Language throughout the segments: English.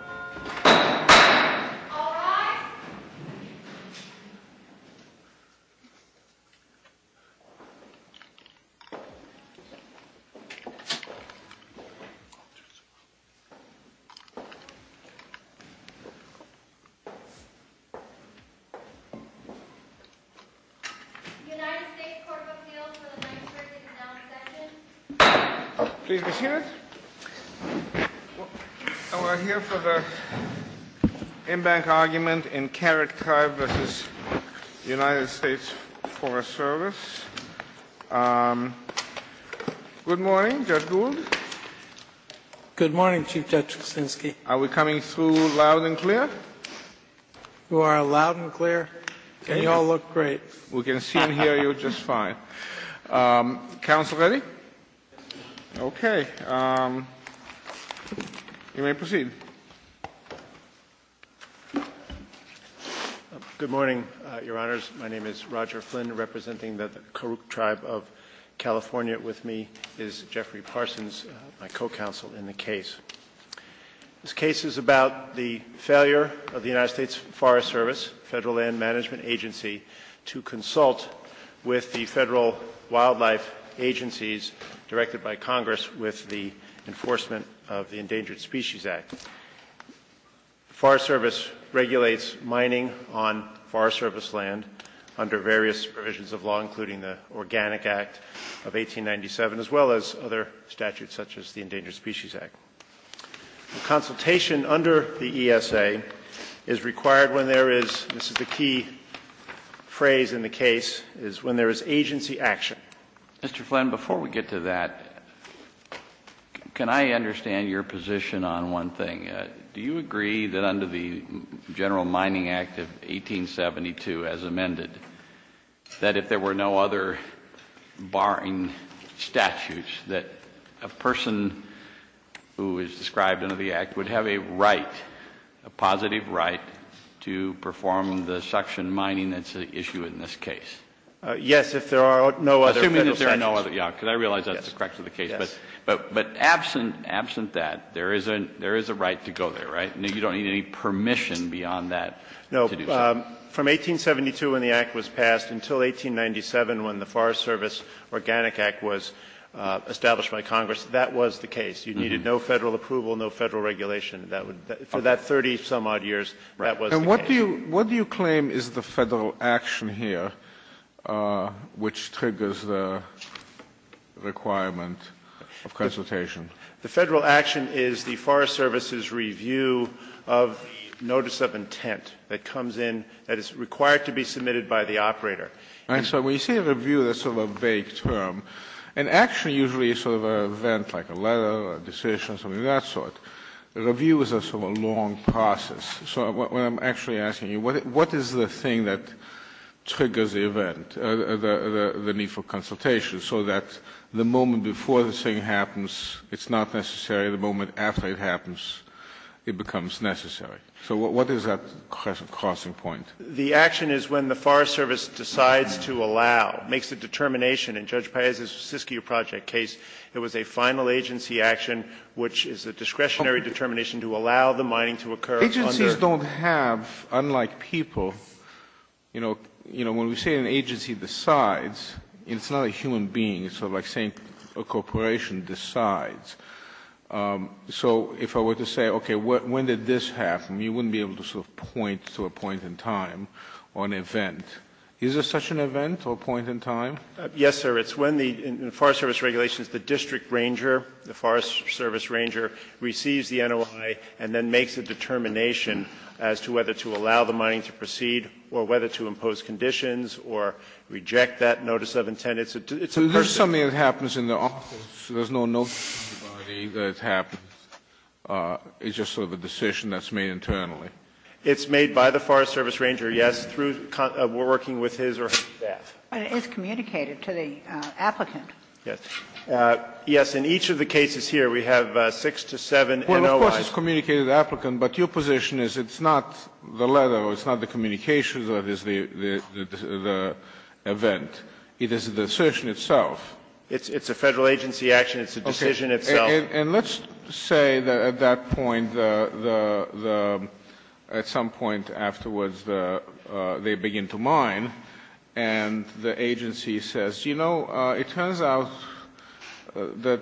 Alright! United States Corps of Appeals for the 9th Circuit's Announcement Session. Please be seated. We're here for the in-bank argument in Karuk Tribe v. United States Forest Service. Good morning, Judge Gould. Good morning, Chief Judge Kuczynski. Are we coming through loud and clear? You are loud and clear, and you all look great. We can see and hear you just fine. Counsel ready? Okay. You may proceed. Good morning, Your Honors. My name is Roger Flynn, representing the Karuk Tribe of California. With me is Jeffrey Parsons, my co-counsel in the case. This case is about the failure of the United States Forest Service, Federal Land Management Agency, to consult with the Federal Wildlife Agencies directed by Congress with the enforcement of the Endangered Species Act. The Forest Service regulates mining on Forest Service land under various provisions of law, including the Organic Act of 1897, as well as other statutes such as the Endangered Species Act. The consultation under the ESA is required when there is, this is the key phrase in the case, is when there is agency action. Mr. Flynn, before we get to that, can I understand your position on one thing? Do you agree that under the General Mining Act of 1872, as amended, that if there were no other barring statutes, that a person who is described under the Act would have a right, a positive right, to perform the suction mining that's at issue in this case? Yes, if there are no other federal statutes. Yeah, because I realize that's the correctness of the case. Yes. But absent that, there is a right to go there, right? You don't need any permission beyond that to do so. From 1872 when the Act was passed until 1897 when the Forest Service Organic Act was established by Congress, that was the case. You needed no Federal approval, no Federal regulation. For that 30-some-odd years, that was the case. And what do you claim is the Federal action here which triggers the requirement of consultation? The Federal action is the Forest Service's review of the notice of intent that comes in that is required to be submitted by the operator. All right. So when you say review, that's sort of a vague term. An action usually is sort of an event like a letter, a decision, something of that sort. A review is a sort of long process. So what I'm actually asking you, what is the thing that triggers the event, the need for consultation, so that the moment before this thing happens, it's not necessary, and the moment after it happens, it becomes necessary? So what is that crossing point? The action is when the Forest Service decides to allow, makes a determination in Judge Paez's Siskiyou Project case. It was a final agency action which is a discretionary determination to allow the mining to occur under. Agencies don't have, unlike people, you know, when we say an agency decides, it's not a human being. It's sort of like saying a corporation decides. So if I were to say, okay, when did this happen, you wouldn't be able to sort of point to a point in time or an event. Is there such an event or a point in time? Yes, sir. It's when the Forest Service regulations, the district ranger, the Forest Service ranger, receives the NOI and then makes a determination as to whether to allow the mining to proceed or whether to impose conditions or reject that notice of intent. It's a person's decision. So there's something that happens in the office. There's no notice to anybody that it happens. It's just sort of a decision that's made internally. It's made by the Forest Service ranger, yes, through working with his or her staff. But it's communicated to the applicant. Yes. Yes, in each of the cases here, we have six to seven NOIs. Well, of course, it's communicated to the applicant, but your position is it's not the letter, it's not the communication that is the event. It is the decision itself. It's a Federal agency action. It's a decision itself. Okay. And let's say that at that point, the at some point afterwards, they begin to mine and the agency says, you know, it turns out that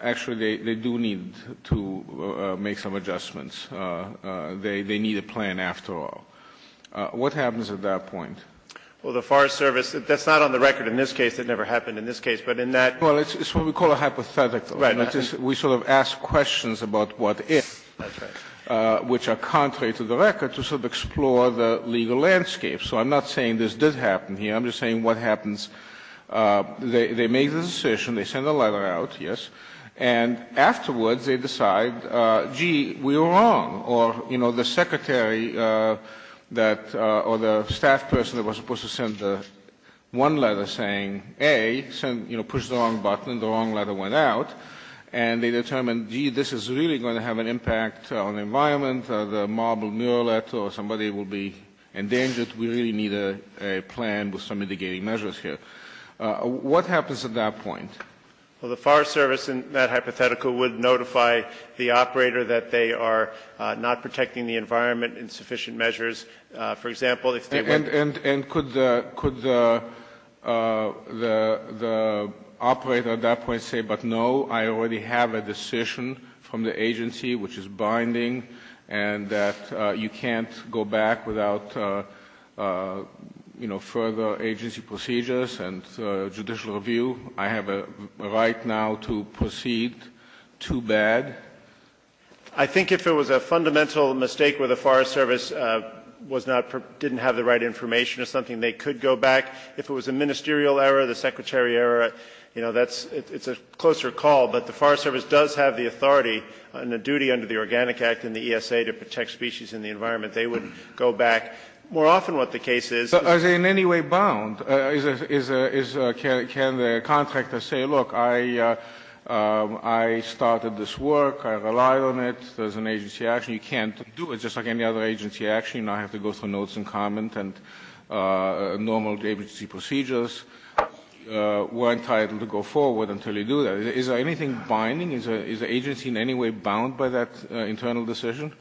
actually they do need to make some adjustments. They need a plan after all. What happens at that point? Well, the Forest Service, that's not on the record in this case. That never happened in this case. But in that case. Well, it's what we call a hypothetical. Right. We sort of ask questions about what if. That's right. Which are contrary to the record to sort of explore the legal landscape. So I'm not saying this did happen here. I'm just saying what happens. They make the decision. They send the letter out, yes. And afterwards, they decide, gee, we were wrong. Or, you know, the secretary that or the staff person that was supposed to send the one letter saying, A, push the wrong button, the wrong letter went out. And they determined, gee, this is really going to have an impact on the environment. The marble mural or somebody will be endangered. We really need a plan with some mitigating measures here. What happens at that point? Well, the Forest Service in that hypothetical would notify the operator that they are not protecting the environment in sufficient measures. For example, if they were. And could the operator at that point say, but no, I already have a decision from the agency which is binding, and that you can't go back without, you know, further agency procedures and judicial review. I have a right now to proceed. Too bad. I think if it was a fundamental mistake where the Forest Service didn't have the right information or something, they could go back. If it was a ministerial error, the secretary error, you know, it's a closer call. But the Forest Service does have the authority and the duty under the Organic Act and the ESA to protect species and the environment. They would go back. More often what the case is. Are they in any way bound? Can the contractor say, look, I started this work. I relied on it. There's an agency action. You can't do it just like any other agency action. I have to go through notes and comment and normal agency procedures. We're entitled to go forward until you do that. Is there anything binding? Is the agency in any way bound by that internal decision?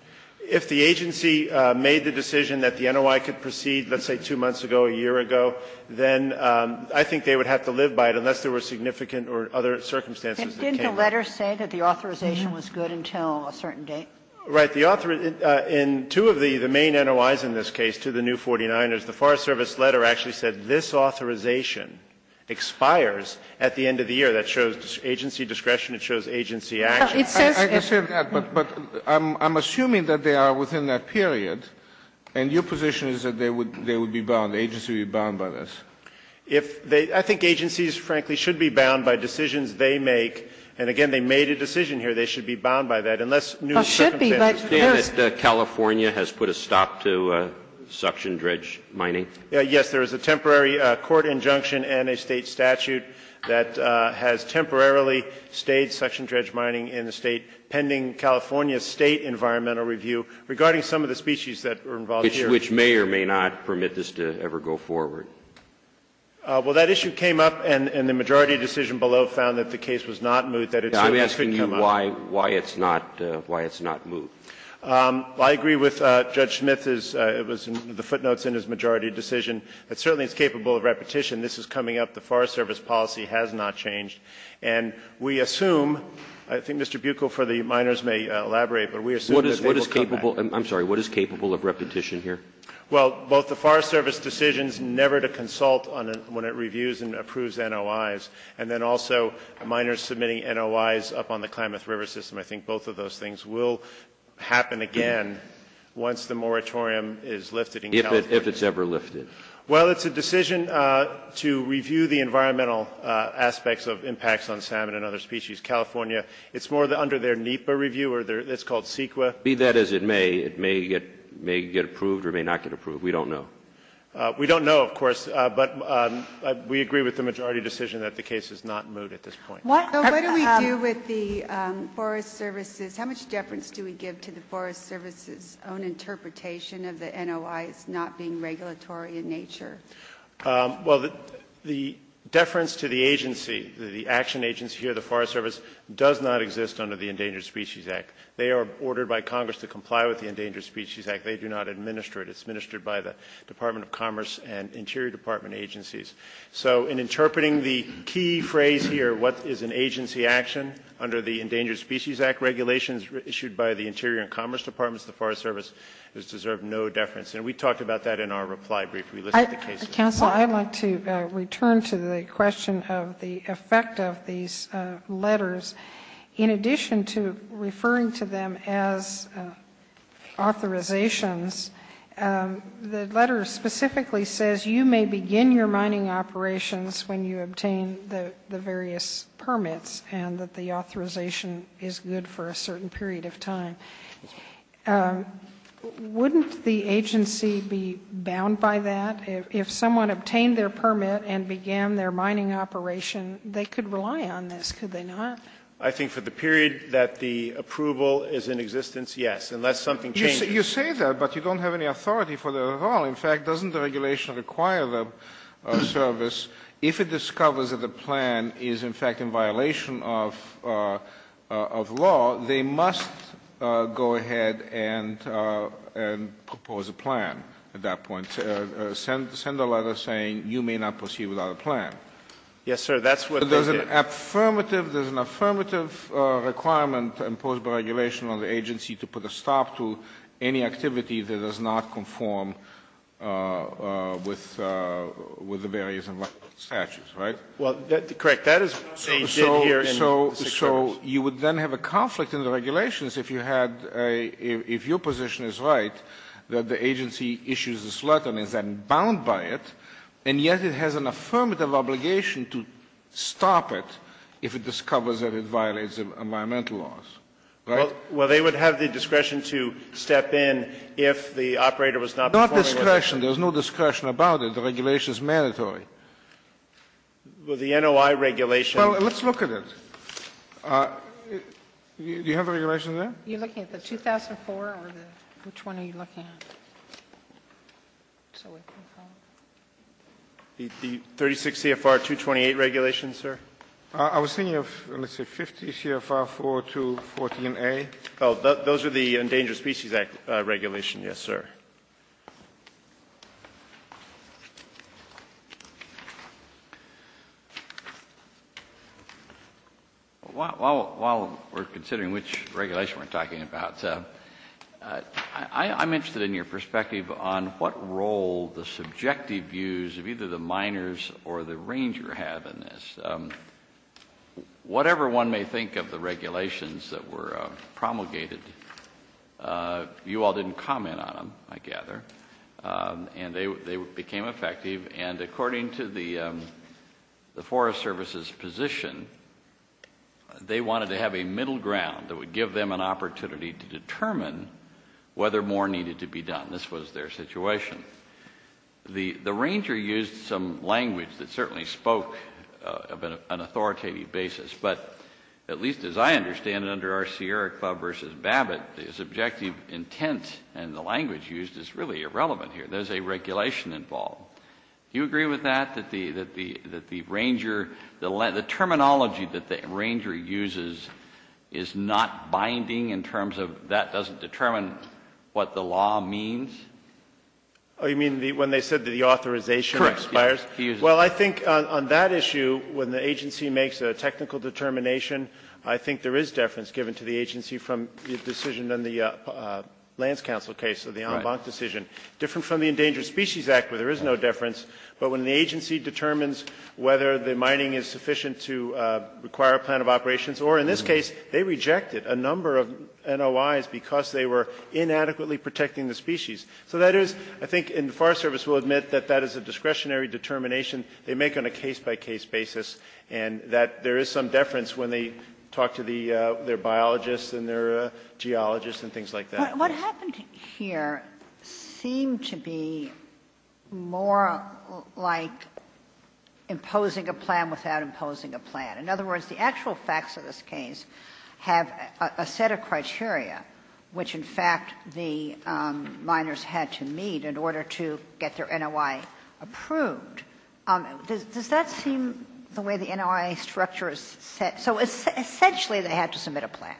If the agency made the decision that the NOI could proceed, let's say, 2 months ago, a year ago, then I think they would have to live by it unless there were significant or other circumstances that came up. And didn't the letter say that the authorization was good until a certain date? Right. In two of the main NOIs in this case, two of the new 49ers, the Forest Service letter actually said this authorization expires at the end of the year. That shows agency discretion. It shows agency action. I understand that, but I'm assuming that they are within that period, and your position is that they would be bound, the agency would be bound by this. If they – I think agencies, frankly, should be bound by decisions they make. And again, they made a decision here. They should be bound by that unless new circumstances arise. Well, should be, but there's – Can you say that California has put a stop to suction dredge mining? Yes. There is a temporary court injunction and a State statute that has temporarily stayed suction dredge mining in the State pending California's State environmental review regarding some of the species that are involved here. Which may or may not permit this to ever go forward? Well, that issue came up, and the majority decision below found that the case was not moved, that it certainly should come up. I'm asking you why it's not moved. I agree with Judge Smith. It was in the footnotes in his majority decision. It certainly is capable of repetition. This is coming up. The Forest Service policy has not changed. And we assume, I think Mr. Buchel for the minors may elaborate, but we assume that they will come back. I'm sorry, what is capable of repetition here? Well, both the Forest Service decisions never to consult when it reviews and approves NOIs, and then also minors submitting NOIs up on the Klamath River system, I think both of those things will happen again once the moratorium is lifted in California. If it's ever lifted. Well, it's a decision to review the environmental aspects of impacts on salmon and other species. California, it's more under their NEPA review, or it's called CEQA. Be that as it may, it may get approved or may not get approved. We don't know. We don't know, of course. But we agree with the majority decision that the case is not moved at this point. What do we do with the Forest Service? How much deference do we give to the Forest Service's own interpretation of the NOIs not being regulatory in nature? Well, the deference to the agency, the action agency here, the Forest Service, does not exist under the Endangered Species Act. They are ordered by Congress to comply with the Endangered Species Act. They do not administer it. It's administered by the Department of Commerce and Interior Department agencies. So in interpreting the key phrase here, what is an agency action, under the Endangered Species Act regulations issued by the Interior and Commerce Departments, the Forest Service does deserve no deference. And we talked about that in our reply brief. We listed the cases. Counsel, I'd like to return to the question of the effect of these letters. In addition to referring to them as authorizations, the letter specifically says you may begin your mining operations when you obtain the various permits and that the authorization is good for a certain period of time. Wouldn't the agency be bound by that? If someone obtained their permit and began their mining operation, they could rely on this, could they not? I think for the period that the approval is in existence, yes, unless something changes. You say that, but you don't have any authority for that at all. In fact, doesn't the regulation require the service, if it discovers that the plan is in fact in violation of law, they must go ahead and propose a plan at that point, send a letter saying you may not proceed without a plan. Yes, sir. That's what the letter did. There's an affirmative requirement imposed by regulation on the agency to put a stop to any activity that does not conform with the various statutes, right? Well, correct. That is what they did here. So you would then have a conflict in the regulations if you had a, if your position is right, that the agency issues this letter and is then bound by it, and yet it has an affirmative obligation to stop it if it discovers that it violates environmental laws, right? Well, they would have the discretion to step in if the operator was not conforming with the regulations. There's no discretion. There's no discretion about it. The regulation is mandatory. Well, the NOI regulation. Well, let's look at it. Do you have a regulation there? You're looking at the 2004 or the, which one are you looking at? The 36 CFR 228 regulation, sir? I was thinking of, let's see, 50 CFR 4214A. Oh, those are the Endangered Species Act regulations, yes, sir. While we're considering which regulation we're talking about, I'm interested in your perspective on what role the subjective views of either the miners or the ranger have in this. Whatever one may think of the regulations that were promulgated, you all didn't comment on them, I gather, and they became effective. And according to the Forest Service's position, they wanted to have a middle ground that would give them an opportunity to determine whether more needed to be done. This was their situation. The ranger used some language that certainly spoke of an authoritative basis. But at least as I understand it under our Sierra Club versus Babbitt, the subjective intent and the language used is really irrelevant here. There's a regulation involved. Do you agree with that? That the ranger, the terminology that the ranger uses is not binding in terms of that doesn't determine what the law means? Oh, you mean when they said that the authorization expires? Correct. Well, I think on that issue, when the agency makes a technical determination, I think there is deference given to the agency from the decision in the Lands Council case of the en banc decision. Different from the Endangered Species Act where there is no deference, but when the agency determines whether the mining is sufficient to require a plan of operations or in this case, they rejected a number of NOIs because they were inadequately protecting the species. So that is, I think and the Forest Service will admit that that is a discretionary determination they make on a case-by-case basis and that there is some deference when they talk to their biologists and their geologists and things like that. What happened here seemed to be more like imposing a plan without imposing a plan. In other words, the actual facts of this case have a set of criteria which, in fact, the miners had to meet in order to get their NOI approved. Does that seem the way the NOI structure is set? So essentially they had to submit a plan.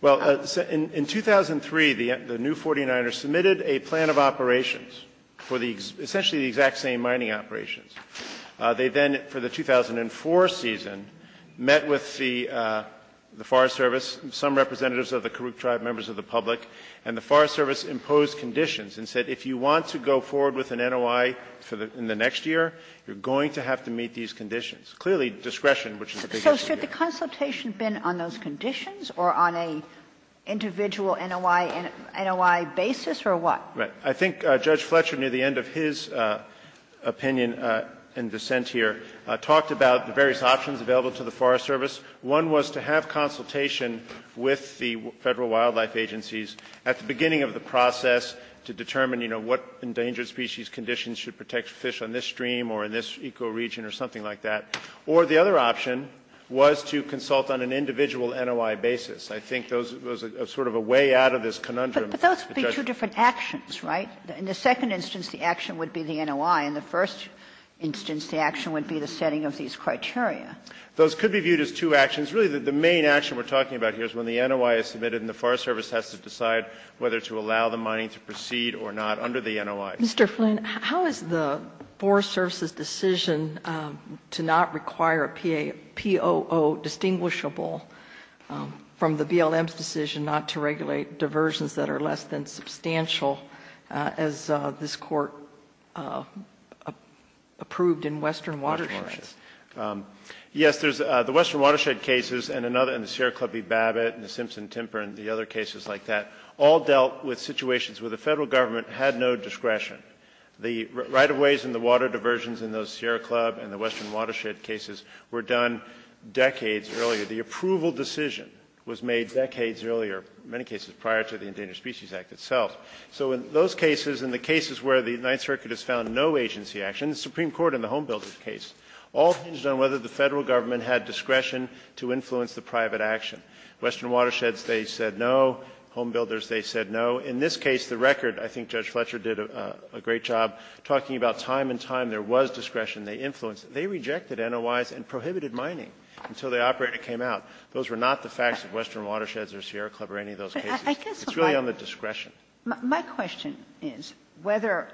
Well, in 2003, the new 49ers submitted a plan of operations for the exact same mining operations. They then, for the 2004 season, met with the Forest Service, some representatives of the Karuk Tribe, members of the public, and the Forest Service imposed conditions and said if you want to go forward with an NOI in the next year, you're going to have to meet these conditions. Clearly, discretion, which is a big issue here. So should the consultation have been on those conditions or on an individual NOI basis, or what? Right. I think Judge Fletcher, near the end of his opinion in dissent here, talked about the various options available to the Forest Service. One was to have consultation with the Federal Wildlife Agencies at the beginning of the process to determine, you know, what endangered species conditions should protect fish on this stream or in this ecoregion or something like that. Or the other option was to consult on an individual NOI basis. I think those are sort of a way out of this conundrum. But those would be two different actions, right? In the second instance, the action would be the NOI. In the first instance, the action would be the setting of these criteria. Those could be viewed as two actions. Really, the main action we're talking about here is when the NOI is submitted and the Forest Service has to decide whether to allow the mining to proceed or not under the NOI. Mr. Flynn, how is the Forest Service's decision to not require a POO distinguishable from the BLM's decision not to regulate diversions that are less than substantial as this Court approved in Western Watersheds? Yes, there's the Western Watershed cases and another in the Sierra Clubby-Babbit and the Simpson-Timper and the other cases like that all dealt with situations where the Federal Government had no discretion. The right-of-ways and the water diversions in those Sierra Club and the Western Watershed cases were done decades earlier. The approval decision was made decades earlier, in many cases prior to the Endangered Species Act itself. So in those cases, in the cases where the Ninth Circuit has found no agency action, the Supreme Court in the Home Builders case, all hinges on whether the Federal Government had discretion to influence the private action. Western Watersheds, they said no. Home Builders, they said no. In this case, the record, I think Judge Fletcher did a great job talking about time and time there was discretion. They influenced it. They rejected NOIs and prohibited mining until the operator came out. Those were not the facts of Western Watersheds or Sierra Club or any of those cases. It's really on the discretion. My question is whether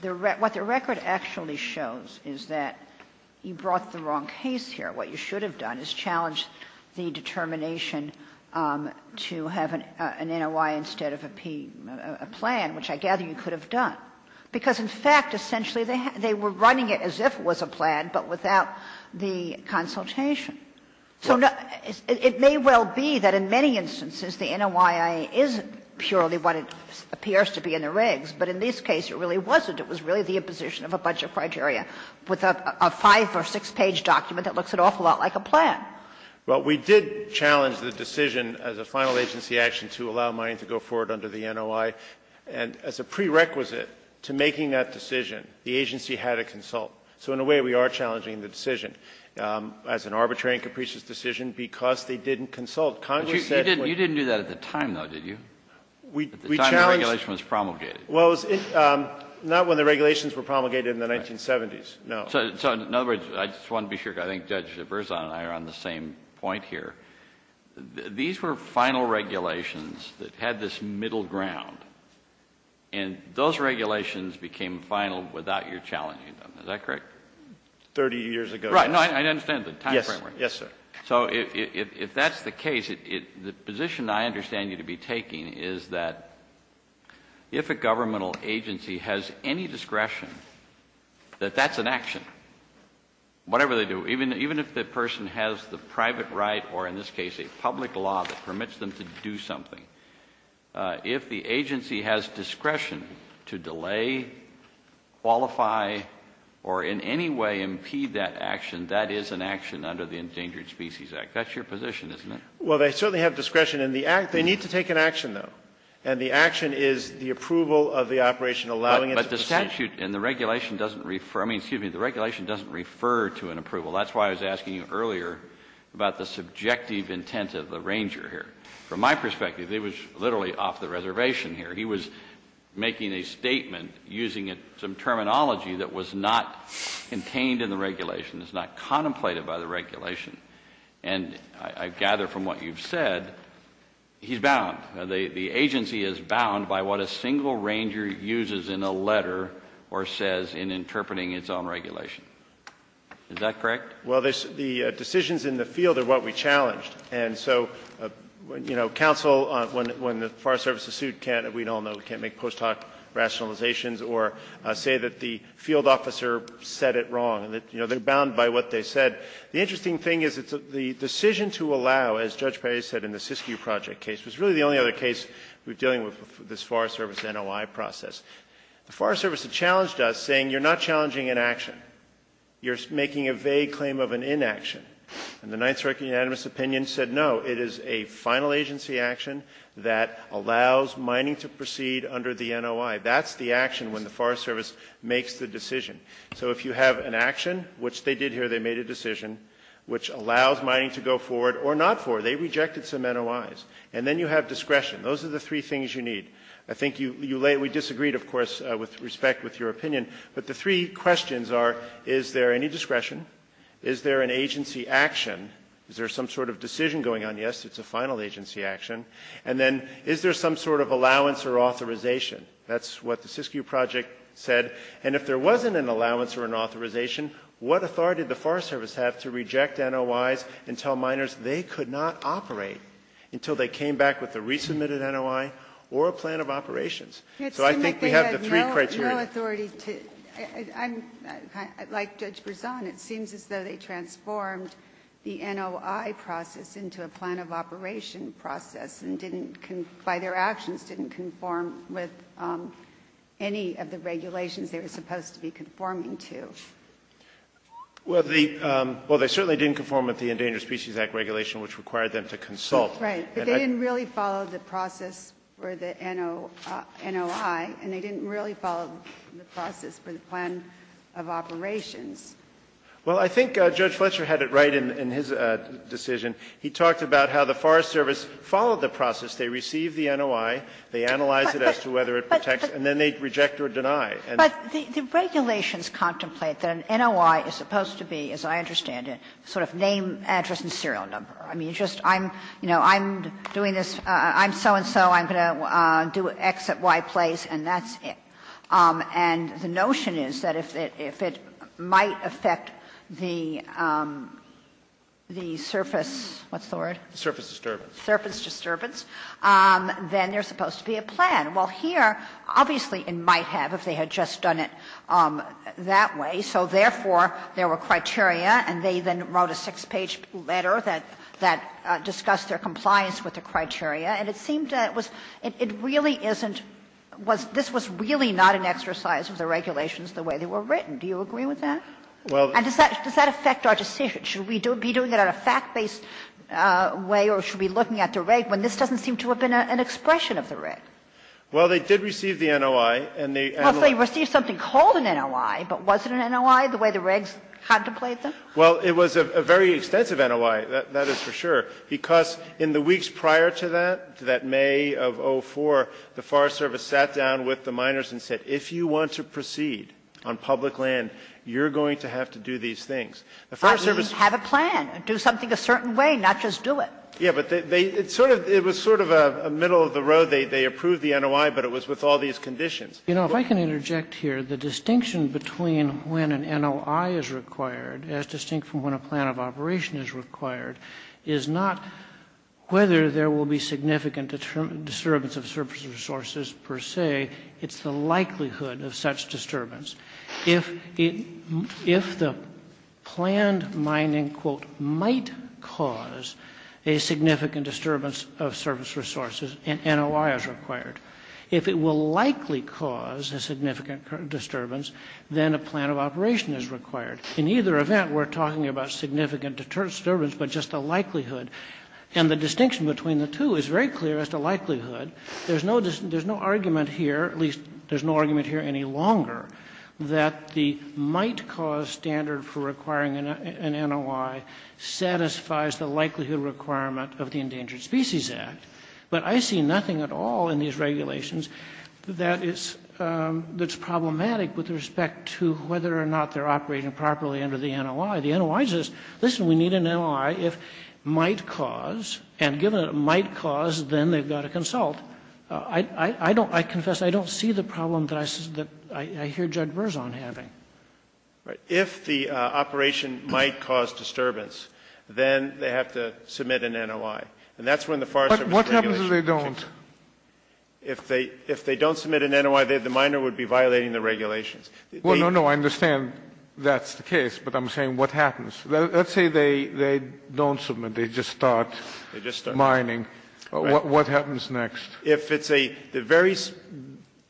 the record actually shows is that you brought the wrong case here. What you should have done is challenged the determination to have an NOI instead of a P, a plan, which I gather you could have done, because, in fact, essentially they were running it as if it was a plan but without the consultation. So it may well be that in many instances the NOI is purely what it appears to be in the regs, but in this case it really wasn't. It was really the imposition of a budget criteria with a five or six-page document that looks an awful lot like a plan. Well, we did challenge the decision as a final agency action to allow mining to go forward under the NOI. And as a prerequisite to making that decision, the agency had to consult. So in a way we are challenging the decision as an arbitrary and capricious decision Congress said it would be an arbitrary decision to allow mining to go forward. Kennedy, you didn't do that at the time, though, did you, at the time the regulation was promulgated? Well, it was not when the regulations were promulgated in the 1970s, no. So, in other words, I just want to be sure, because I think Judge Verzon and I are on the same point here, these were final regulations that had this middle ground, and those regulations became final without your challenging them. Is that correct? Thirty years ago. Right. No, I understand the time framework. Yes, sir. So if that's the case, the position I understand you to be taking is that if a governmental agency has any discretion that that's an action, whatever they do, even if the person has the private right or in this case a public law that permits them to do something, if the agency has discretion to delay, qualify, or in any way impede that action, that is an action under the Endangered Species Act. That's your position, isn't it? Well, they certainly have discretion. They need to take an action, though, and the action is the approval of the operation allowing it to proceed. But the statute and the regulation doesn't refer to an approval. That's why I was asking you earlier about the subjective intent of the ranger here. From my perspective, he was literally off the reservation here. He was making a statement using some terminology that was not contained in the regulation, is not contemplated by the regulation. And I gather from what you've said, he's bound. The agency is bound by what a single ranger uses in a letter or says in interpreting its own regulation. Is that correct? Well, the decisions in the field are what we challenged. And so, you know, counsel, when the Forest Service is sued, can't, we all know, can't make post hoc rationalizations or say that the field officer said it wrong. You know, they're bound by what they said. The interesting thing is the decision to allow, as Judge Perry said in the Siskiyou Project case, was really the only other case we were dealing with this Forest Service NOI process. The Forest Service had challenged us saying you're not challenging an action. You're making a vague claim of an inaction. And the Ninth Circuit unanimous opinion said no, it is a final agency action that allows mining to proceed under the NOI. That's the action when the Forest Service makes the decision. So if you have an action, which they did here, they made a decision, which allows mining to go forward or not forward, they rejected some NOIs. And then you have discretion. Those are the three things you need. I think you, we disagreed, of course, with respect with your opinion. But the three questions are, is there any discretion? Is there an agency action? Is there some sort of decision going on? Yes, it's a final agency action. And then is there some sort of allowance or authorization? That's what the Siskiyou Project said. And if there wasn't an allowance or an authorization, what authority did the Forest Service have to reject NOIs and tell miners they could not operate until they came back with a resubmitted NOI or a plan of operations? So I think we have the three criteria. No authority to, like Judge Berzon, it seems as though they transformed the NOI process into a plan of operation process and didn't, by their actions, didn't conform with any of the regulations they were supposed to be conforming to. Well, they certainly didn't conform with the Endangered Species Act regulation, which required them to consult. Right. But they didn't really follow the process for the NOI, and they didn't really follow the process for the plan of operations. Well, I think Judge Fletcher had it right in his decision. He talked about how the Forest Service followed the process. They received the NOI. They analyzed it as to whether it protects. And then they reject or deny. But the regulations contemplate that an NOI is supposed to be, as I understand it, sort of name, address, and serial number. I mean, just I'm, you know, I'm doing this, I'm so-and-so, I'm going to do X at Y place, and that's it. And the notion is that if it might affect the surface, what's the word? Surface disturbance. Surface disturbance, then there's supposed to be a plan. Well, here, obviously, it might have if they had just done it that way. So therefore, there were criteria, and they then wrote a six-page letter that discussed their compliance with the criteria, and it seemed that it was, it really isn't, this was really not an exercise of the regulations the way they were written. Do you agree with that? And does that affect our decision? Should we be doing it on a fact-based way, or should we be looking at the reg when this doesn't seem to have been an expression of the reg? Well, they did receive the NOI, and they Well, they received something called an NOI, but was it an NOI the way the regs contemplated them? Well, it was a very extensive NOI, that is for sure, because in the weeks prior to that, that May of 2004, the Forest Service sat down with the miners and said, if you want to proceed on public land, you're going to have to do these things. The Forest Service I mean, have a plan, do something a certain way, not just do it. Yeah, but they, it sort of, it was sort of a middle of the road. They approved the NOI, but it was with all these conditions. You know, if I can interject here, the distinction between when an NOI is required as distinct from when a plan of operation is required is not whether there will be significant disturbance of service resources per se, it's the likelihood of such disturbance. If the planned mining, quote, might cause a significant disturbance of service resources, an NOI is required. If it will likely cause a significant disturbance, then a plan of operation is required. In either event, we're talking about significant disturbance, but just the likelihood, and the distinction between the two is very clear as to likelihood. There's no argument here, at least there's no argument here any longer, that the might cause standard for requiring an NOI satisfies the likelihood requirement of the Endangered Species Act. But I see nothing at all in these regulations that is, that's problematic with respect to whether or not they're operating properly under the NOI. The NOI says, listen, we need an NOI if might cause, and given it might cause, then they've got to consult. I don't, I confess, I don't see the problem that I hear Judge Berzon having. Right. If the operation might cause disturbance, then they have to submit an NOI. And that's when the Forest Service regulations change. But what happens if they don't? If they don't submit an NOI, the miner would be violating the regulations. Well, no, no, I understand that's the case, but I'm saying what happens? Let's say they don't submit, they just start mining. They just start. They start mining. What happens next? If it's a very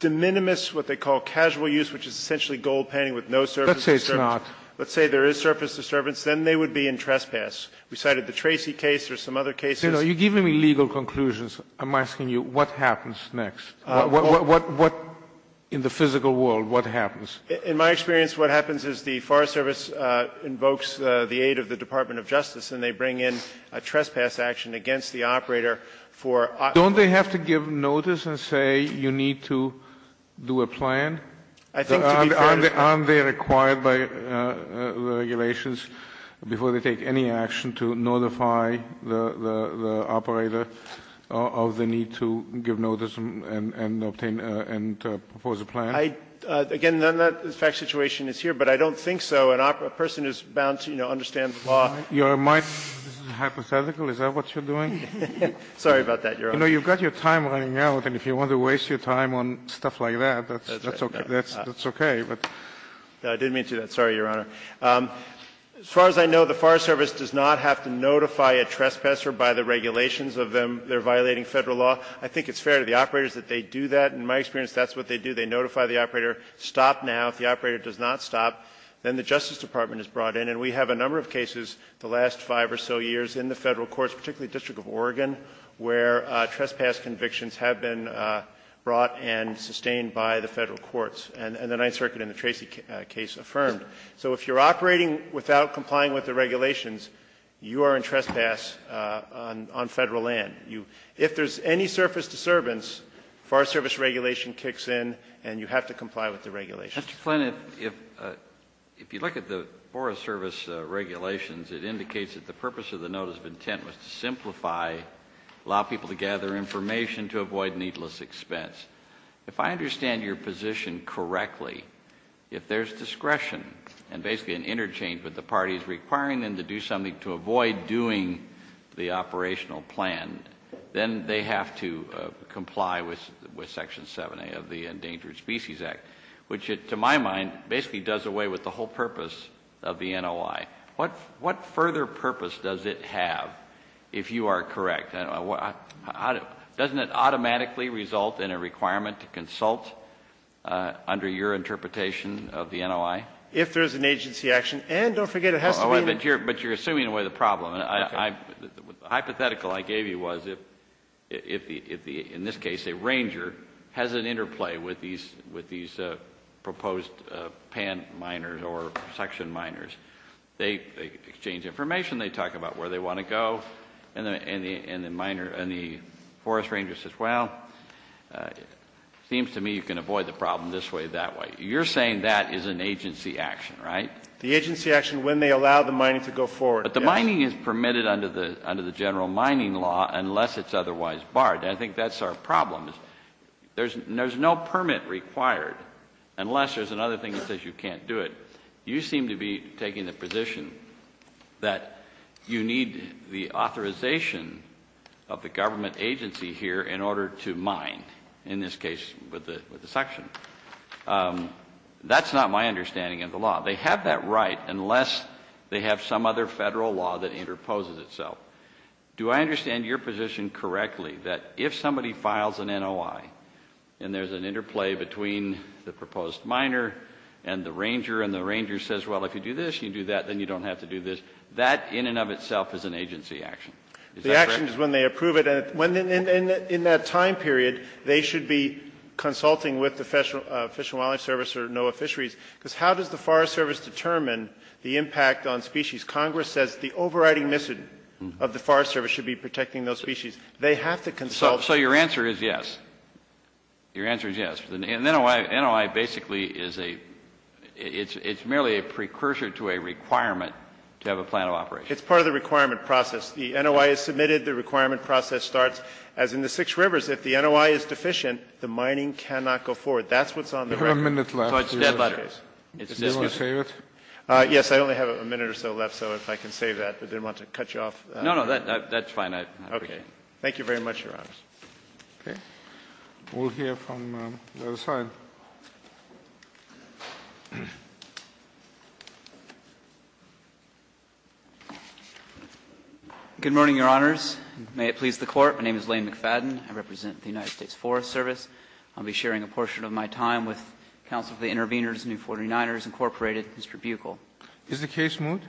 de minimis, what they call casual use, which is essentially gold panning with no surface disturbance. Let's say it's not. Let's say there is surface disturbance, then they would be in trespass. We cited the Tracy case. There's some other cases. You're giving me legal conclusions. I'm asking you what happens next. What, what, what, in the physical world, what happens? In my experience, what happens is the Forest Service invokes the aid of the Department of Justice, and they bring in a trespass action against the operator for operating the plant. Don't they have to give notice and say you need to do a plan? I think to be fair to you. Aren't they required by the regulations before they take any action to notify the operator of the need to give notice and obtain and propose a plan? I, again, none of that fact situation is here, but I don't think so. A person who is bound to, you know, understand the law. Kennedy, this is hypothetical. Is that what you're doing? Sorry about that, Your Honor. You know, you've got your time running out, and if you want to waste your time on stuff like that, that's okay. I didn't mean to do that. Sorry, Your Honor. As far as I know, the Forest Service does not have to notify a trespasser by the regulations of them. They're violating Federal law. I think it's fair to the operators that they do that. In my experience, that's what they do. They notify the operator, stop now. If the operator does not stop, then the Justice Department is brought in. And we have a number of cases the last five or so years in the Federal courts, particularly the District of Oregon, where trespass convictions have been brought and sustained by the Federal courts. And the Ninth Circuit in the Tracy case affirmed. So if you're operating without complying with the regulations, you are in trespass on Federal land. If there's any surface disturbance, Forest Service regulation kicks in and you have to comply with the regulations. Mr. Flynn, if you look at the Forest Service regulations, it indicates that the purpose of the notice of intent was to simplify, allow people to gather information to avoid needless expense. If I understand your position correctly, if there's discretion and basically an interchange with the parties requiring them to do something to avoid doing the operational plan, then they have to comply with Section 7A of the Endangered Species Act, which to my mind basically does away with the whole purpose of the NOI. What further purpose does it have, if you are correct? Doesn't it automatically result in a requirement to consult under your interpretation of the NOI? If there's an agency action. And don't forget, it has to be— In this case, a ranger has an interplay with these proposed pan miners or section miners. They exchange information, they talk about where they want to go, and the forest ranger says, well, it seems to me you can avoid the problem this way, that way. You're saying that is an agency action, right? The agency action when they allow the mining to go forward. But the mining is permitted under the general mining law unless it's otherwise barred. I think that's our problem. There's no permit required unless there's another thing that says you can't do it. You seem to be taking the position that you need the authorization of the government agency here in order to mine, in this case with the section. That's not my understanding of the law. They have that right unless they have some other Federal law that interposes itself. Do I understand your position correctly that if somebody files an NOI and there's an interplay between the proposed miner and the ranger, and the ranger says, well, if you do this, you do that, then you don't have to do this, that in and of itself is an agency action? The action is when they approve it, and in that time period, they should be consulting with the Fish and Wildlife Service or NOAA Fisheries, because how does the Forest Service determine the impact on species? Congress says the overriding mission of the Forest Service should be protecting those species. They have to consult. So your answer is yes. Your answer is yes. An NOI basically is a, it's merely a precursor to a requirement to have a plan of operation. It's part of the requirement process. The NOI is submitted. The requirement process starts. As in the Six Rivers, if the NOI is deficient, the mining cannot go forward. That's what's on the record. We have a minute left. So it's dead butter. It's dead butter. Do you want to save it? Yes, I only have a minute or so left, so if I can save that. I didn't want to cut you off. No, no, that's fine. I appreciate it. Thank you very much, Your Honors. Okay. We'll hear from the other side. Good morning, Your Honors. May it please the Court. My name is Lane McFadden. I represent the United States Forest Service. I'll be sharing a portion of my time with counsel for the intervenors, New 49ers, Incorporated, Mr. Buchel. Is the case moot?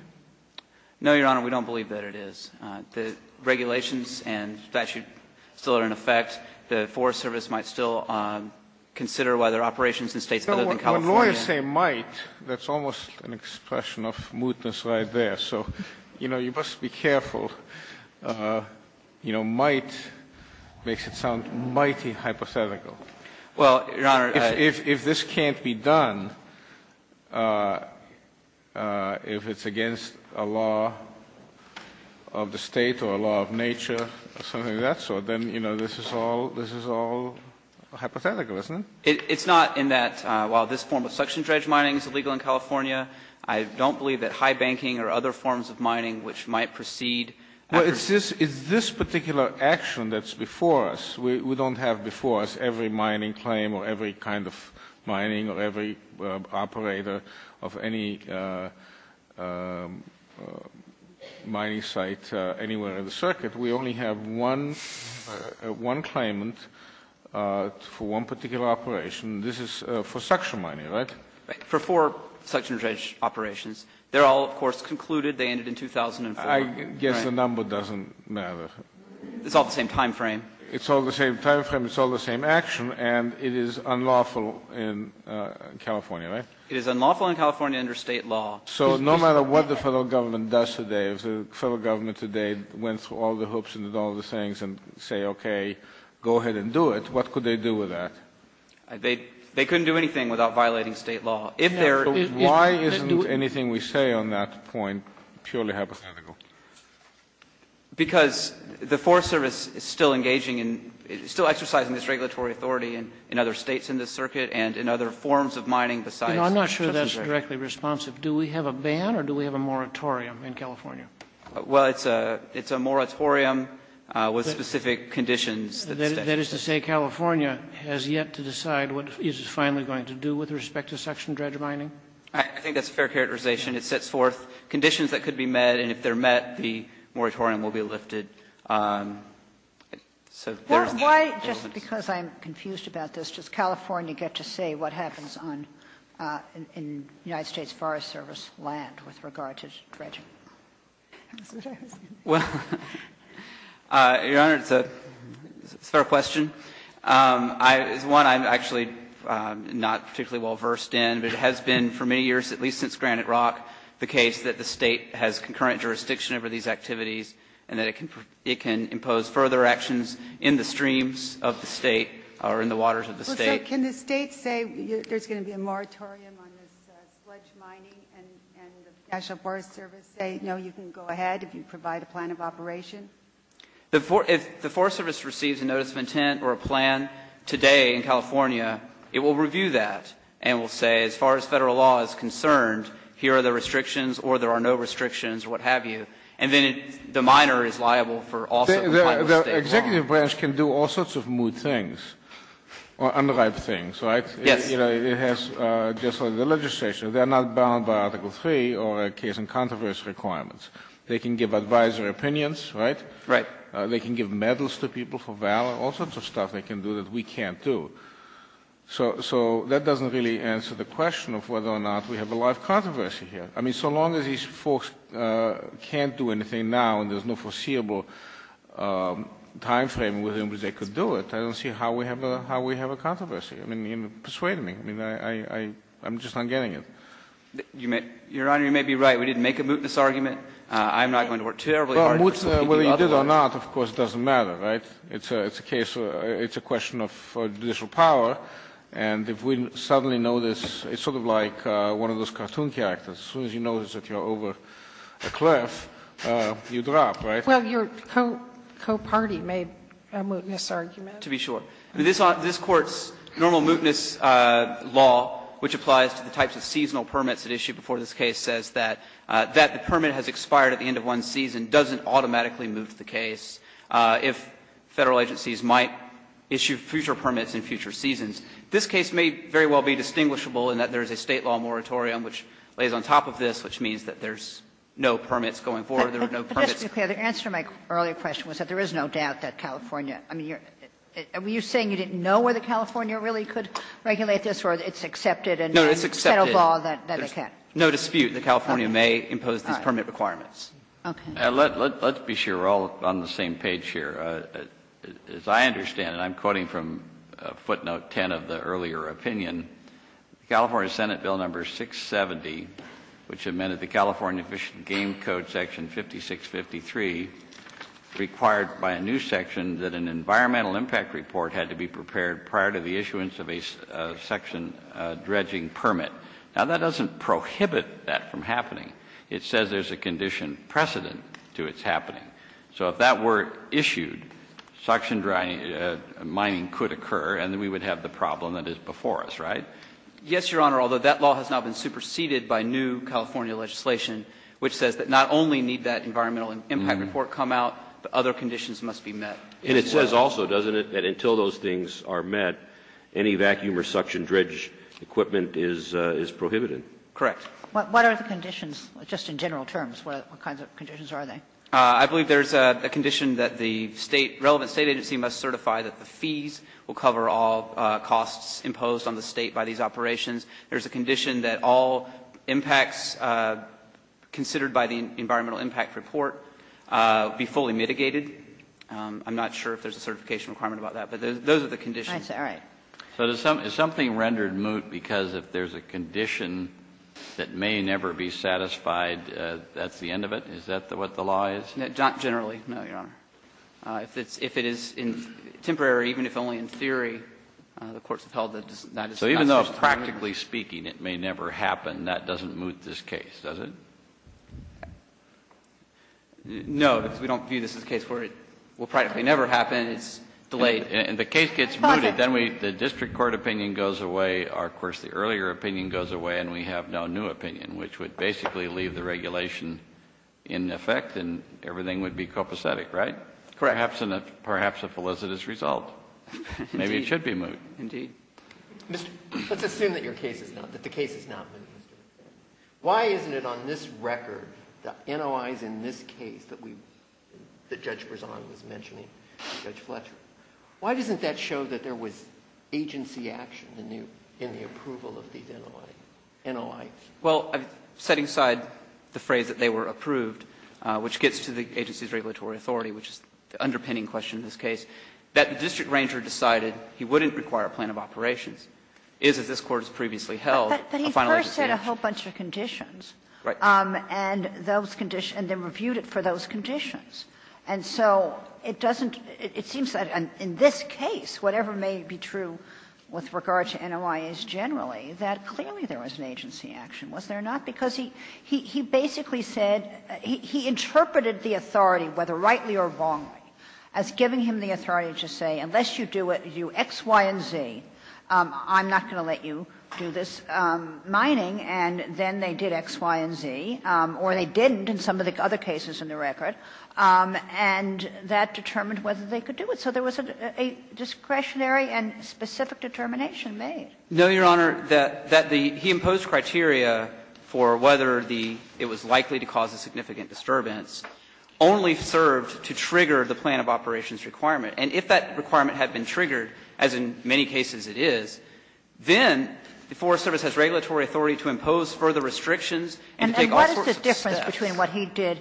No, Your Honor, we don't believe that it is. The regulations and statute still are in effect. The Forest Service might still consider whether operations in States other than California When lawyers say might, that's almost an expression of mootness right there. So, you know, you must be careful. You know, might makes it sound mighty hypothetical. Well, Your Honor. If this can't be done, if it's against a law of the State or a law of nature or something of that sort, then, you know, this is all hypothetical, isn't it? It's not in that while this form of suction dredge mining is illegal in California, I don't believe that high banking or other forms of mining which might proceed after Well, it's this particular action that's before us. We don't have before us every mining claim or every kind of mining or every operator of any mining site anywhere in the circuit. We only have one claimant for one particular operation. This is for suction mining, right? For four suction dredge operations. They're all, of course, concluded. They ended in 2004. I guess the number doesn't matter. It's all the same time frame. It's all the same time frame. It's all the same action. And it is unlawful in California, right? It is unlawful in California under State law. So no matter what the Federal Government does today, if the Federal Government today went through all the hoops and did all the things and say, okay, go ahead and do it, what could they do with that? They couldn't do anything without violating State law. If there So why isn't anything we say on that point purely hypothetical? Because the Forest Service is still engaging in, still exercising its regulatory authority in other States in this circuit and in other forms of mining besides I'm not sure that's directly responsive. Do we have a ban or do we have a moratorium in California? Well, it's a moratorium with specific conditions. That is to say, California has yet to decide what it is finally going to do with respect to suction dredge mining? I think that's a fair characterization. It sets forth conditions that could be met, and if they're met, the moratorium will be lifted. So there's Why, just because I'm confused about this, does California get to say what happens on United States Forest Service land with regard to dredging? Well, Your Honor, it's a fair question. I, as one, I'm actually not particularly well versed in, but it has been for many years, at least since Granite Rock, the case that the State has concurrent jurisdiction over these activities and that it can impose further actions in the streams of the State or in the waters of the State. Can the State say there's going to be a moratorium on this dredge mining and the Forest Service say, no, you can go ahead if you provide a plan of operation? If the Forest Service receives a notice of intent or a plan today in California, it will review that and will say, as far as Federal law is concerned, here are the restrictions or there are no restrictions or what have you. And then the miner is liable for all sorts of kinds of mistakes. The executive branch can do all sorts of moot things or unripe things, right? Yes. It has, just like the legislation, they're not bound by Article 3 or a case in controversy requirements. They can give advisory opinions, right? Right. They can give medals to people for valor, all sorts of stuff they can do that we can't do. So that doesn't really answer the question of whether or not we have a live controversy here. I mean, so long as these folks can't do anything now and there's no foreseeable time frame within which they could do it, I don't see how we have a controversy. I mean, persuade me. I mean, I'm just not getting it. You may be right. We didn't make a mootness argument. I'm not going to work terribly hard for the people of other countries. Whether you did or not, of course, doesn't matter, right? It's a case, it's a question of judicial power. And if we suddenly notice, it's sort of like one of those cartoon characters. As soon as you notice that you're over a cliff, you drop, right? Well, your co-party made a mootness argument. To be sure. This Court's normal mootness law, which applies to the types of seasonal permits it issued before this case, says that the permit has expired at the end of one season, doesn't automatically move the case if Federal agencies might issue future permits in future seasons. This case may very well be distinguishable in that there is a State law moratorium which lays on top of this, which means that there's no permits going forward, there are no permits. I'm sorry. What did you say? Justice Sotomayor, the answer to my earlier question is that there is no doubt that California, I mean, were you saying you didn't know whether California really could regulate this, or it's accepted and then the Federal law that they can. Justice Kagan, no dispute, that California may impose these permit requirements. All right. Okay. Let's be sure we're all on the same page. As I understand it, and I'm quoting from footnote 10 of the earlier opinion, the California Senate Bill Number 670, which amended the California Fish and Game Code, Section 5653, required by a new section that an environmental impact report had to be prepared prior to the issuance of a section dredging permit. Now, that doesn't prohibit that from happening. It says there's a condition precedent to its happening. So if that were issued, suction drying, mining could occur, and then we would have the problem that is before us, right? Yes, Your Honor, although that law has now been superseded by new California legislation, which says that not only need that environmental impact report come out, but other conditions must be met. And it says also, doesn't it, that until those things are met, any vacuum or suction dredge equipment is prohibited? Correct. What are the conditions, just in general terms? What kinds of conditions are they? I believe there's a condition that the relevant State agency must certify that the fees will cover all costs imposed on the State by these operations. There's a condition that all impacts considered by the environmental impact report be fully mitigated. I'm not sure if there's a certification requirement about that, but those are the conditions. All right. So is something rendered moot because if there's a condition that may never be satisfied, that's the end of it? Is that what the law is? Generally, no, Your Honor. If it is temporary, even if only in theory, the courts have held that that is the best practically speaking, it may never happen, that doesn't moot this case, does it? No, because we don't view this as a case where it will practically never happen. It's delayed. And the case gets mooted. Then the district court opinion goes away. Of course, the earlier opinion goes away, and we have no new opinion, which would basically leave the regulation in effect, and everything would be copacetic, right? Correct. Perhaps a felicitous result. Maybe it should be moot. Indeed. Mr. Let's assume that your case is not, that the case is not moot. Why isn't it on this record, the NOIs in this case that we, that Judge Brezon was mentioning, and Judge Fletcher, why doesn't that show that there was agency action in the approval of these NOIs? Well, setting aside the phrase that they were approved, which gets to the agency's regulatory authority, which is the underpinning question in this case, that the district ranger decided he wouldn't require a plan of operations is, as this Court has previously held, a final agency action. But he first said a whole bunch of conditions. Right. And those conditions, and then reviewed it for those conditions. And so it doesn't, it seems that in this case, whatever may be true with regard to NOIs generally, that clearly there was an agency action, was there not? Because he basically said, he interpreted the authority, whether rightly or wrongly, as giving him the authority to say, unless you do it, you X, Y, and Z, I'm not going to let you do this mining, and then they did X, Y, and Z, or they didn't in some of the other cases in the record, and that determined whether they could do it. So there was a discretionary and specific determination made. No, Your Honor, that the, he imposed criteria for whether the, it was likely to cause a significant disturbance, only served to trigger the plan of operations requirement. And if that requirement had been triggered, as in many cases it is, then the Forest Service has regulatory authority to impose further restrictions and to take all sorts of steps. And what is the difference between what he did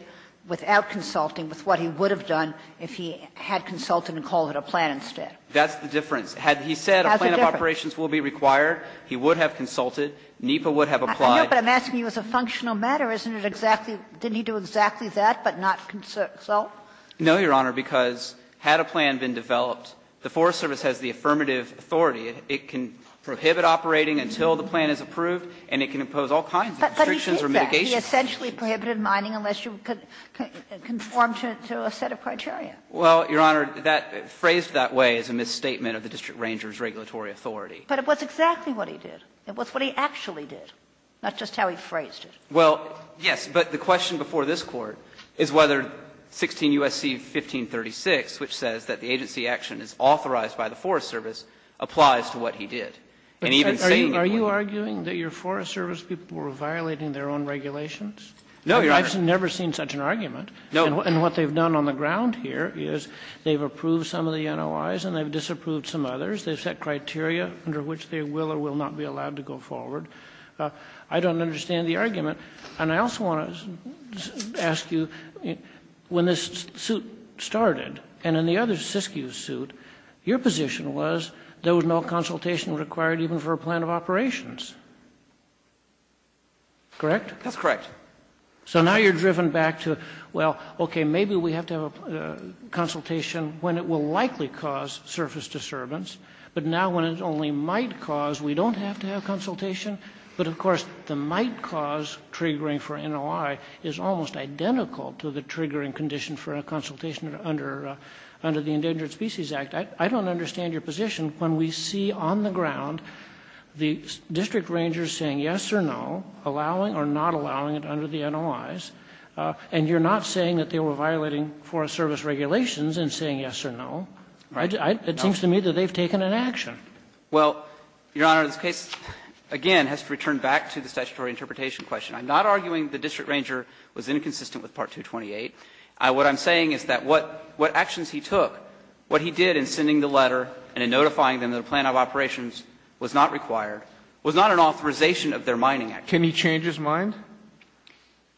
without consulting with what he would have done if he had consulted and called it a plan instead? That's the difference. Had he said a plan of operations will be required, he would have consulted. NEPA would have applied. Kagan. But I'm asking you as a functional matter, isn't it exactly, didn't he do exactly that, but not consult? No, Your Honor, because had a plan been developed, the Forest Service has the affirmative authority. It can prohibit operating until the plan is approved, and it can impose all kinds of restrictions or mitigation. But he did that. He essentially prohibited mining unless you could conform to a set of criteria. Well, Your Honor, that, phrased that way is a misstatement of the district ranger's regulatory authority. But it was exactly what he did. It was what he actually did. That's just how he phrased it. Well, yes. But the question before this Court is whether 16 U.S.C. 1536, which says that the agency action is authorized by the Forest Service, applies to what he did. And even saying it would. Are you arguing that your Forest Service people were violating their own regulations? No, Your Honor. I've never seen such an argument. No. And what they've done on the ground here is they've approved some of the NOIs and they've disapproved some others. They've set criteria under which they will or will not be allowed to go forward. I don't understand the argument. And I also want to ask you, when this suit started and in the other Siskiyou suit, your position was there was no consultation required even for a plan of operations. Correct? That's correct. So now you're driven back to, well, okay, maybe we have to have a consultation when it will likely cause surface disturbance. But now when it only might cause, we don't have to have consultation. But, of course, the might cause triggering for NOI is almost identical to the triggering condition for a consultation under the Endangered Species Act. I don't understand your position when we see on the ground the district rangers saying yes or no, allowing or not allowing it under the NOIs, and you're not saying that they were violating Forest Service regulations in saying yes or no. It seems to me that they've taken an action. Well, Your Honor, this case, again, has to return back to the statutory interpretation question. I'm not arguing the district ranger was inconsistent with Part 228. What I'm saying is that what actions he took, what he did in sending the letter and in notifying them that a plan of operations was not required, was not an authorization of their mining action. Can he change his mind?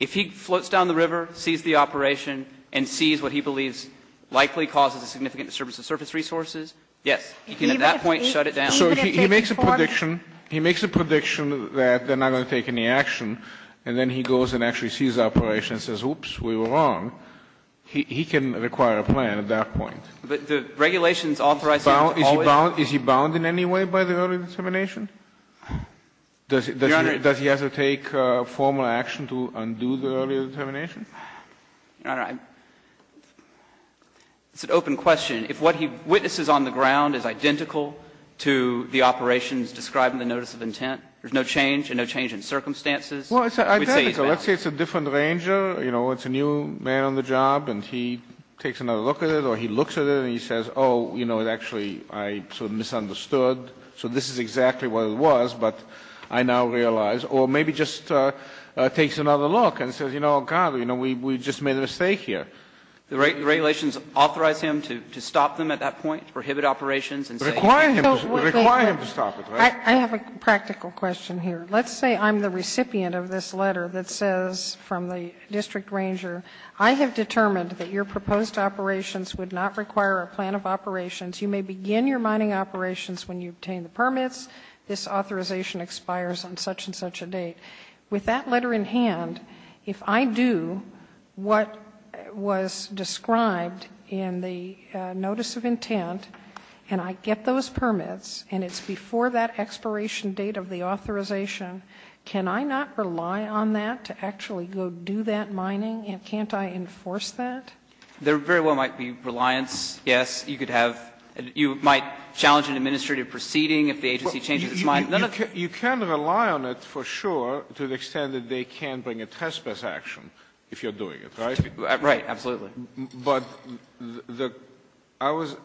If he floats down the river, sees the operation, and sees what he believes likely causes a significant disturbance of surface resources, yes, he can at that point shut it down. So he makes a prediction. He makes a prediction that they're not going to take any action, and then he goes and actually sees the operation and says, oops, we were wrong. He can require a plan at that point. But the regulations authorizing it is always a plan. Is he bound in any way by the early determination? Does he have to take formal action to undo the early determination? I don't know. It's an open question. If what he witnesses on the ground is identical to the operations described in the notice of intent, there's no change and no change in circumstances, we'd say he's bound. Kennedy, let's say it's a different ranger, you know, it's a new man on the job and he takes another look at it or he looks at it and he says, oh, you know, it actually I sort of misunderstood, so this is exactly what it was, but I now realize, or maybe he just takes another look and says, you know, oh, God, you know, we just made a mistake here. The regulations authorize him to stop them at that point, prohibit operations and say. Require him to stop it, right? I have a practical question here. Let's say I'm the recipient of this letter that says from the district ranger, I have determined that your proposed operations would not require a plan of operations. You may begin your mining operations when you obtain the permits. This authorization expires on such and such a date. With that letter in hand, if I do what was described in the notice of intent and I get those permits and it's before that expiration date of the authorization, can I not rely on that to actually go do that mining, and can't I enforce that? There very well might be reliance, yes, you could have you might challenge an administrative proceeding if the agency changes its mind. You can rely on it for sure to the extent that they can bring a trespass action if you're doing it, right? Right, absolutely. But I was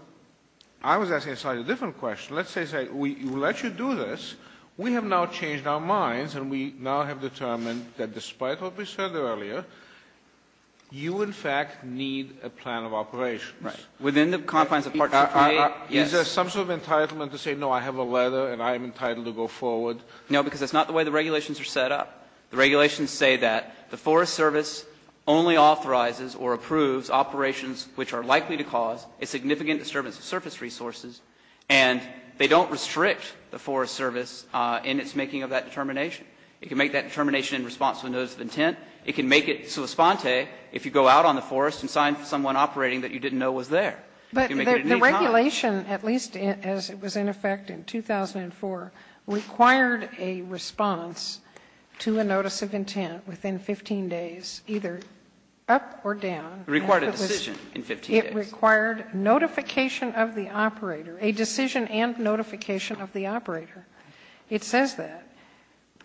I was asking a slightly different question. Let's say we let you do this. We have now changed our minds and we now have determined that despite what we said earlier, you in fact need a plan of operations. Right. Within the confines of partnership. Is there some sort of entitlement to say no, I have a letter and I am entitled to go forward? No, because that's not the way the regulations are set up. The regulations say that the Forest Service only authorizes or approves operations which are likely to cause a significant disturbance of surface resources, and they don't restrict the Forest Service in its making of that determination. It can make that determination in response to a notice of intent. It can make it sui sponte if you go out on the forest and sign for someone operating that you didn't know was there. But the regulation, at least as it was in effect in 2004, required a response to a notice of intent within 15 days, either up or down. It required a decision in 15 days. It required notification of the operator, a decision and notification of the operator. It says that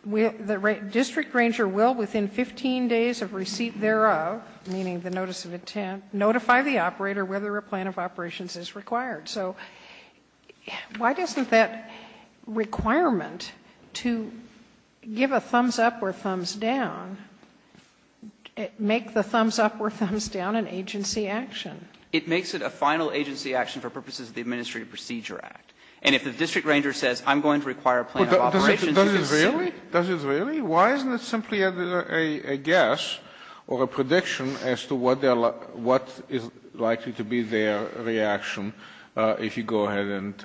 the district ranger will within 15 days of receipt thereof, meaning the notice of intent, notify the operator whether a plan of operations is required. So why doesn't that requirement to give a thumbs up or thumbs down make the thumbs up or thumbs down an agency action? It makes it a final agency action for purposes of the Administrative Procedure Act. And if the district ranger says I'm going to require a plan of operations, you can say it. So why isn't it simply a guess or a prediction as to what is likely to be their reaction if you go ahead and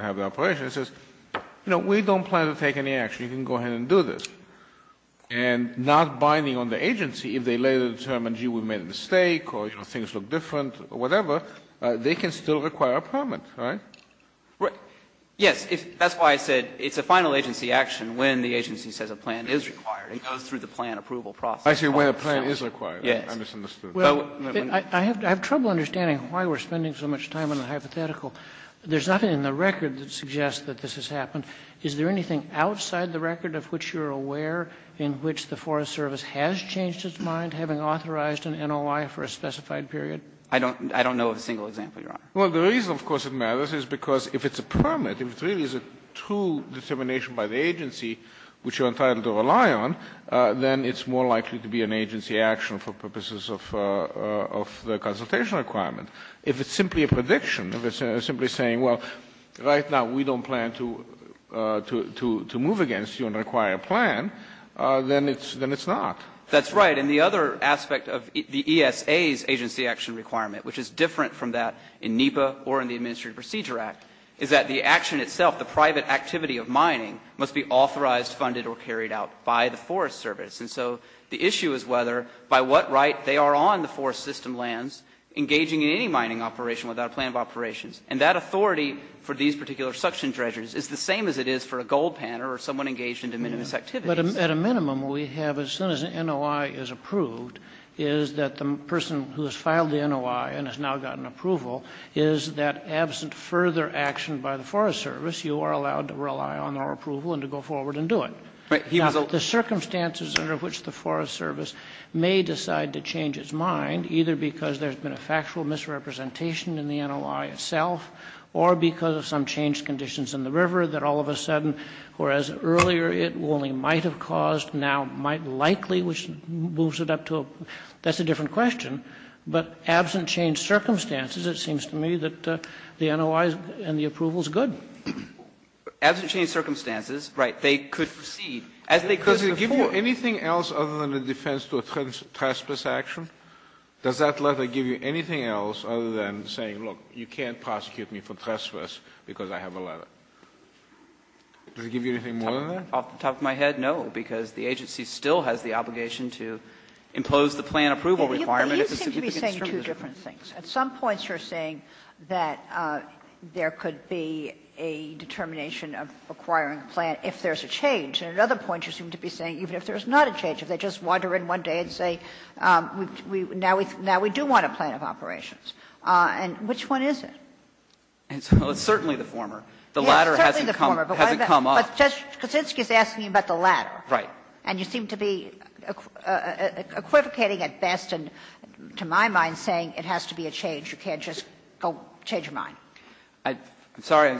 have the operation? It says, you know, we don't plan to take any action. You can go ahead and do this. And not binding on the agency, if they later determine, gee, we made a mistake or things look different or whatever, they can still require a permit, right? Yes. That's why I said it's a final agency action when the agency says a plan is required. It goes through the plan approval process. Kennedy, I see where the plan is required. I misunderstood. Kennedy, I have trouble understanding why we are spending so much time on the hypothetical. There is nothing in the record that suggests that this has happened. Is there anything outside the record of which you are aware in which the Forest Service has changed its mind, having authorized an NOI for a specified period? I don't know of a single example, Your Honor. Well, the reason, of course, it matters is because if it's a permit, if it really is a true determination by the agency which you are entitled to rely on, then it's more likely to be an agency action for purposes of the consultation requirement. If it's simply a prediction, if it's simply saying, well, right now we don't plan to move against you and require a plan, then it's not. That's right. And the other aspect of the ESA's agency action requirement, which is different from that in NEPA or in the Administrative Procedure Act, is that the action itself, the private activity of mining, must be authorized, funded, or carried out by the Forest Service. And so the issue is whether, by what right, they are on the forest system lands engaging in any mining operation without a plan of operations. And that authority for these particular suction treasuries is the same as it is for a gold panner or someone engaged in de minimis activities. But at a minimum, we have, as soon as an NOI is approved, is that the person who has gotten approval is that, absent further action by the Forest Service, you are allowed to rely on our approval and to go forward and do it. Now, the circumstances under which the Forest Service may decide to change its mind, either because there's been a factual misrepresentation in the NOI itself or because of some changed conditions in the river that all of a sudden, whereas earlier it only might have caused, now might likely, which moves it up to a, that's a different question. But absent changed circumstances, it seems to me that the NOI and the approval is good. Gershengorn Absent changed circumstances, right, they could proceed as they could before. Kennedy Because it gives you anything else other than a defense to a trespass action? Does that letter give you anything else other than saying, look, you can't prosecute me for trespass because I have a letter? Does it give you anything more than that? Gershengorn Off the top of my head, no, because the agency still has the obligation to impose the plan approval requirements. Kagan But you seem to be saying two different things. At some points you're saying that there could be a determination of acquiring a plan if there's a change, and at other points you seem to be saying even if there's not a change, if they just wander in one day and say, now we do want a plan of operations. And which one is it? Gershengorn It's certainly the former. The latter hasn't come up. Kagan Yes, certainly the former. But Judge Kuczynski is asking you about the latter. Gershengorn Right. Kagan And you seem to be equivocating at best and, to my mind, saying it has to be a change. You can't just go change your mind. Gershengorn I'm sorry.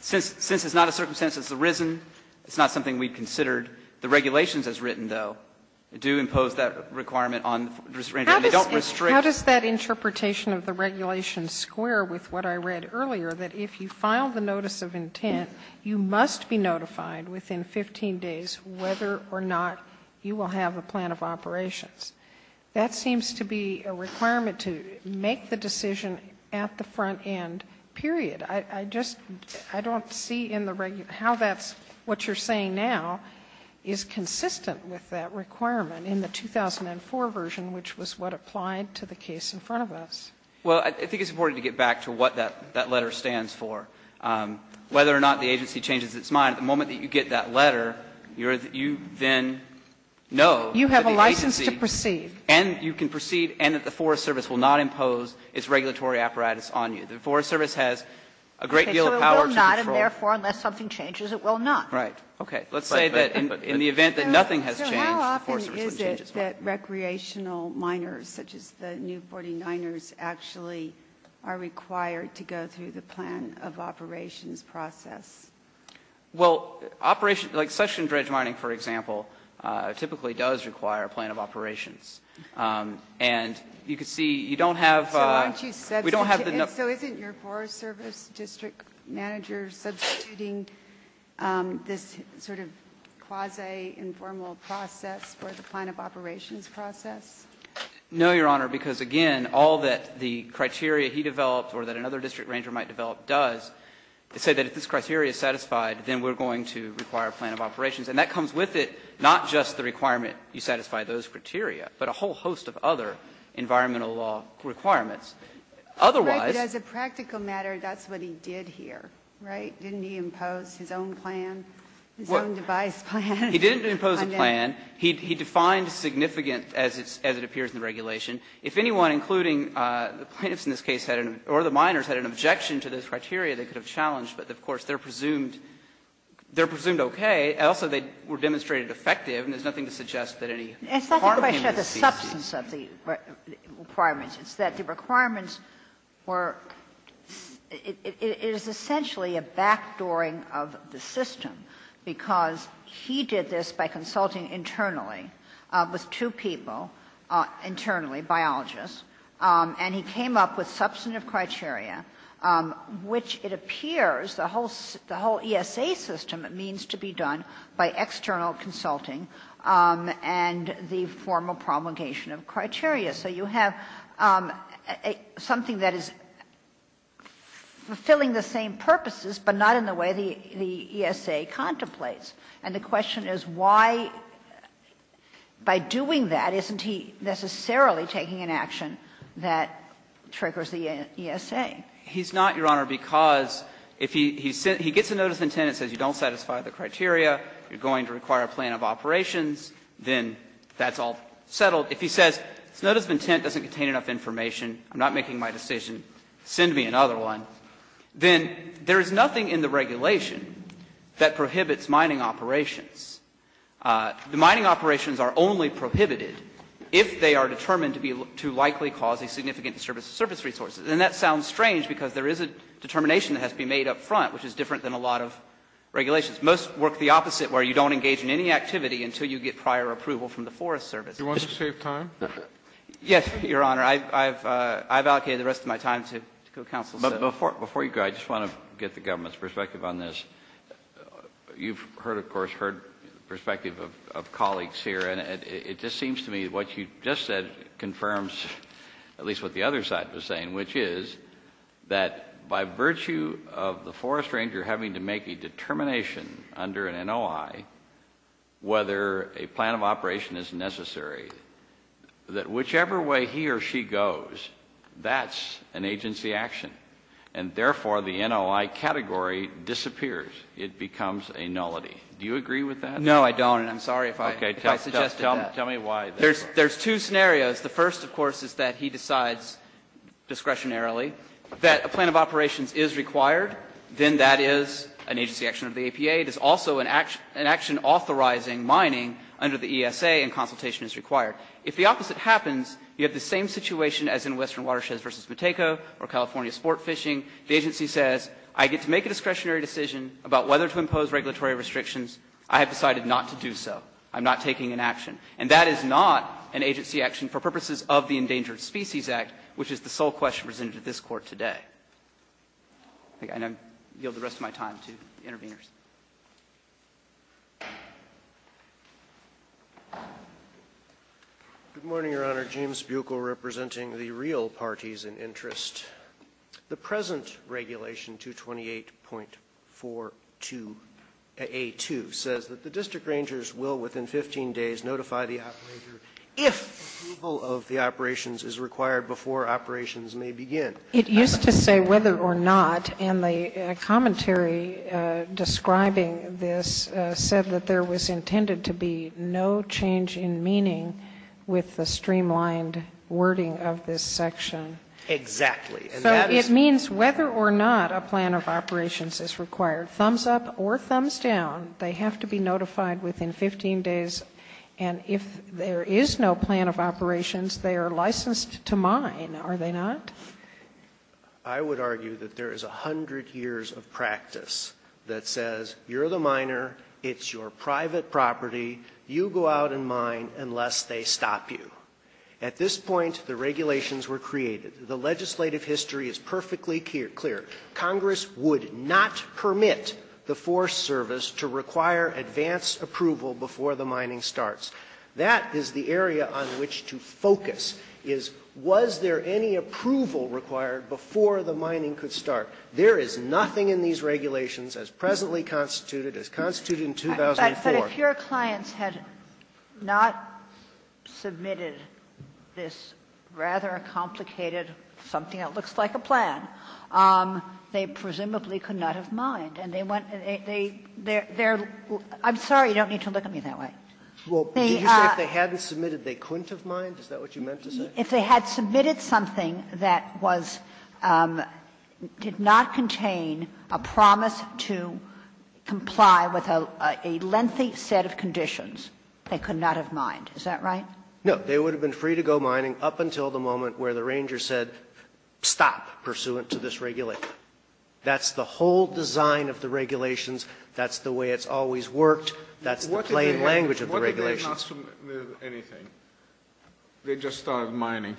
Since it's not a circumstance that's arisen, it's not something we've considered. The regulations, as written, though, do impose that requirement on the ranger. They don't restrict. Sotomayor How does that interpretation of the regulations square with what I read earlier, that if you file the notice of intent, you must be notified within 15 days whether or not you will have a plan of operations? That seems to be a requirement to make the decision at the front end, period. I just, I don't see in the, how that's, what you're saying now is consistent with that requirement in the 2004 version, which was what applied to the case in front of us. Gershengorn Well, I think it's important to get back to what that letter stands for. Whether or not the agency changes its mind, the moment that you get that letter, you're, you then know that the agency. Sotomayor You have a license to perceive. Gershengorn And you can perceive, and that the Forest Service will not impose its regulatory apparatus on you. The Forest Service has a great deal of power to control. Sotomayor Okay. So it will not, and therefore, unless something changes, it will not. Gershengorn Right. Okay. Let's say that in the event that nothing has changed, the Forest Service wouldn't change its mind. Kagan So how often is it that recreational miners, such as the New 49ers, actually are required to go through the plan of operations process? Gershengorn Well, operation, like suction dredge mining, for example, typically does require a plan of operations. And you can see, you don't have, we don't have the number. Sotomayor So isn't your Forest Service district manager substituting this sort of quasi-informal process for the plan of operations process? Gershengorn No, Your Honor, because again, all that the criteria he developed or that another district ranger might develop does is say that if this criteria is satisfied, then we're going to require a plan of operations. And that comes with it, not just the requirement you satisfy those criteria, but a whole host of other environmental law requirements. Otherwise ---- Ginsburg Right, but as a practical matter, that's what he did here, right? Didn't he impose his own plan, his own device plan? Gershengorn He didn't impose a plan. He defined significant, as it appears in the regulation, if anyone, including the plaintiffs in this case had an, or the miners, had an objection to this criteria they could have challenged, but of course, they're presumed, they're presumed okay. Also, they were demonstrated effective, and there's nothing to suggest that any harm came to the CC. Kagan It's not the question of the substance of the requirements. It's that the requirements were, it is essentially a backdooring of the system, because he did this by consulting internally with two people, internally, biologists, and he came up with substantive criteria, which it appears the whole ESA system means to be done by external consulting and the formal promulgation of criteria. So you have something that is fulfilling the same purposes, but not in the way the ESA contemplates, and the question is why, by doing that, isn't he necessarily taking an action that triggers the ESA? He's not, Your Honor, because if he gets a notice of intent and says you don't satisfy the criteria, you're going to require a plan of operations, then that's all settled. If he says, this notice of intent doesn't contain enough information, I'm not making my decision, send me another one, then there is nothing in the regulation that prohibits mining operations. The mining operations are only prohibited if they are determined to be, to likely cause a significant disturbance to service resources. And that sounds strange, because there is a determination that has to be made up front, which is different than a lot of regulations. Most work the opposite, where you don't engage in any activity until you get prior approval from the Forest Service. Scalia. Do you want to save time? Yes, Your Honor. I have allocated the rest of my time to counsel. Kennedy. But before you go, I just want to get the government's perspective on this. You've heard, of course, heard the perspective of colleagues here, and it just seems to me what you just said confirms at least what the other side was saying, which is that by virtue of the forest ranger having to make a determination under an NOI whether a plan of operation is necessary, that whichever way he or she goes, that's an agency action. And therefore, the NOI category disappears. It becomes a nullity. Do you agree with that? No, I don't, and I'm sorry if I suggested that. Tell me why. There's two scenarios. The first, of course, is that he decides discretionarily that a plan of operations is required, then that is an agency action under the APA. It is also an action authorizing mining under the ESA and consultation is required. If the opposite happens, you have the same situation as in Western Watersheds v. Matejko or California sport fishing. The agency says, I get to make a discretionary decision about whether to impose regulatory restrictions. I have decided not to do so. I'm not taking an action. And that is not an agency action for purposes of the Endangered Species Act, which is the sole question presented at this Court today. And I yield the rest of my time to the interveners. Roberts. Good morning, Your Honor. James Buechel representing the real parties in interest. The present Regulation 228.42a2 says that the district rangers will within 15 days notify the operator if approval of the operations is required before operations may begin. It used to say whether or not, and the commentary describing this said that there was intended to be no change in meaning with the streamlined wording of this section. Exactly. So it means whether or not a plan of operations is required, thumbs up or thumbs down, they have to be notified within 15 days. And if there is no plan of operations, they are licensed to mine, are they not? I would argue that there is a hundred years of practice that says you're the miner, it's your private property, you go out and mine unless they stop you. At this point, the regulations were created. The legislative history is perfectly clear. Congress would not permit the Forest Service to require advanced approval before the mining starts. That is the area on which to focus, is was there any approval required before the mining could start. There is nothing in these regulations as presently constituted, as constituted in 2004. But if your clients had not submitted this rather complicated, something that looks like a plan, they presumably could not have mined, and they went and they they're I'm sorry, you don't need to look at me that way. Well, did you say if they hadn't submitted, they couldn't have mined, is that what you meant to say? If they had submitted something that was, did not contain a promise to comply with a lengthy set of conditions, they could not have mined, is that right? No. They would have been free to go mining up until the moment where the ranger said stop, pursuant to this regulation. That's the whole design of the regulations. That's the way it's always worked. That's the plain language of the regulations. Kennedy, what if they had not submitted anything? They just started mining.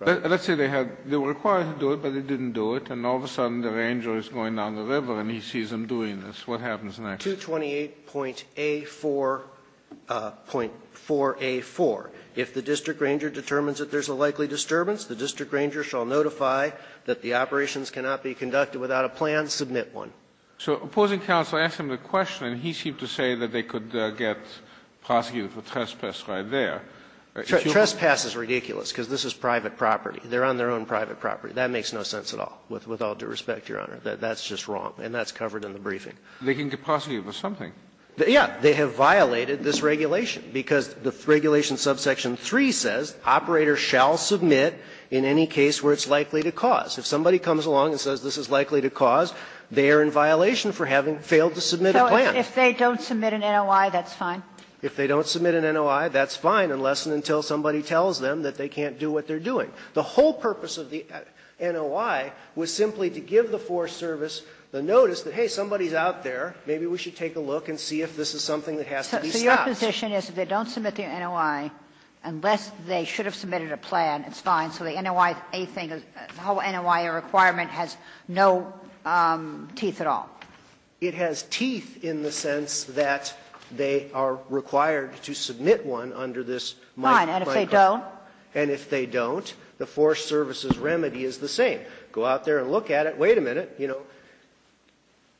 Let's say they had, they were required to do it, but they didn't do it, and all of a sudden the ranger is going down the river and he sees them doing this. What happens next? 228.A4.4A4. If the district ranger determines that there's a likely disturbance, the district ranger shall notify that the operations cannot be conducted without a plan, submit one. So opposing counsel asked him the question, and he seemed to say that they could get prosecuted for trespass right there. Trespass is ridiculous, because this is private property. They're on their own private property. That makes no sense at all, with all due respect, Your Honor. That's just wrong, and that's covered in the briefing. They can get prosecuted for something. Yeah. They have violated this regulation, because the regulation subsection 3 says operators shall submit in any case where it's likely to cause. If somebody comes along and says this is likely to cause, they are in violation for having failed to submit a plan. So if they don't submit an NOI, that's fine? If they don't submit an NOI, that's fine, unless and until somebody tells them that they can't do what they're doing. The whole purpose of the NOI was simply to give the Forest Service the notice that, hey, somebody's out there, maybe we should take a look and see if this is something that has to be stopped. So your position is if they don't submit their NOI, unless they should have submitted a plan, it's fine, so the NOIA thing, the whole NOIA requirement has no teeth at all? It has teeth in the sense that they are required to submit one under this microcode. Fine, and if they don't? And if they don't, the Forest Service's remedy is the same. Go out there and look at it, wait a minute, you know,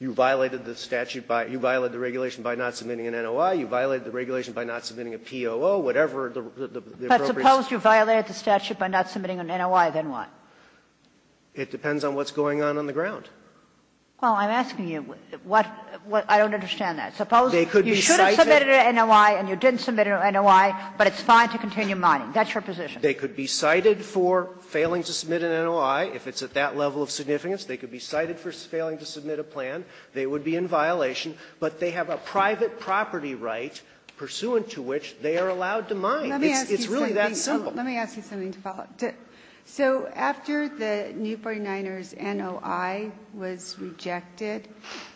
you violated the statute by you violated the regulation by not submitting an NOI, you violated the regulation by not submitting a POO, whatever the appropriate. Suppose you violated the statute by not submitting an NOI, then what? It depends on what's going on on the ground. Well, I'm asking you, what, I don't understand that. Suppose you should have submitted a NOI and you didn't submit a NOI, but it's fine to continue mining. That's your position. They could be cited for failing to submit an NOI, if it's at that level of significance. They could be cited for failing to submit a plan. They would be in violation, but they have a private property right pursuant to which they are allowed to mine. It's really that simple. Let me ask you something to follow up. So after the New 49ers' NOI was rejected,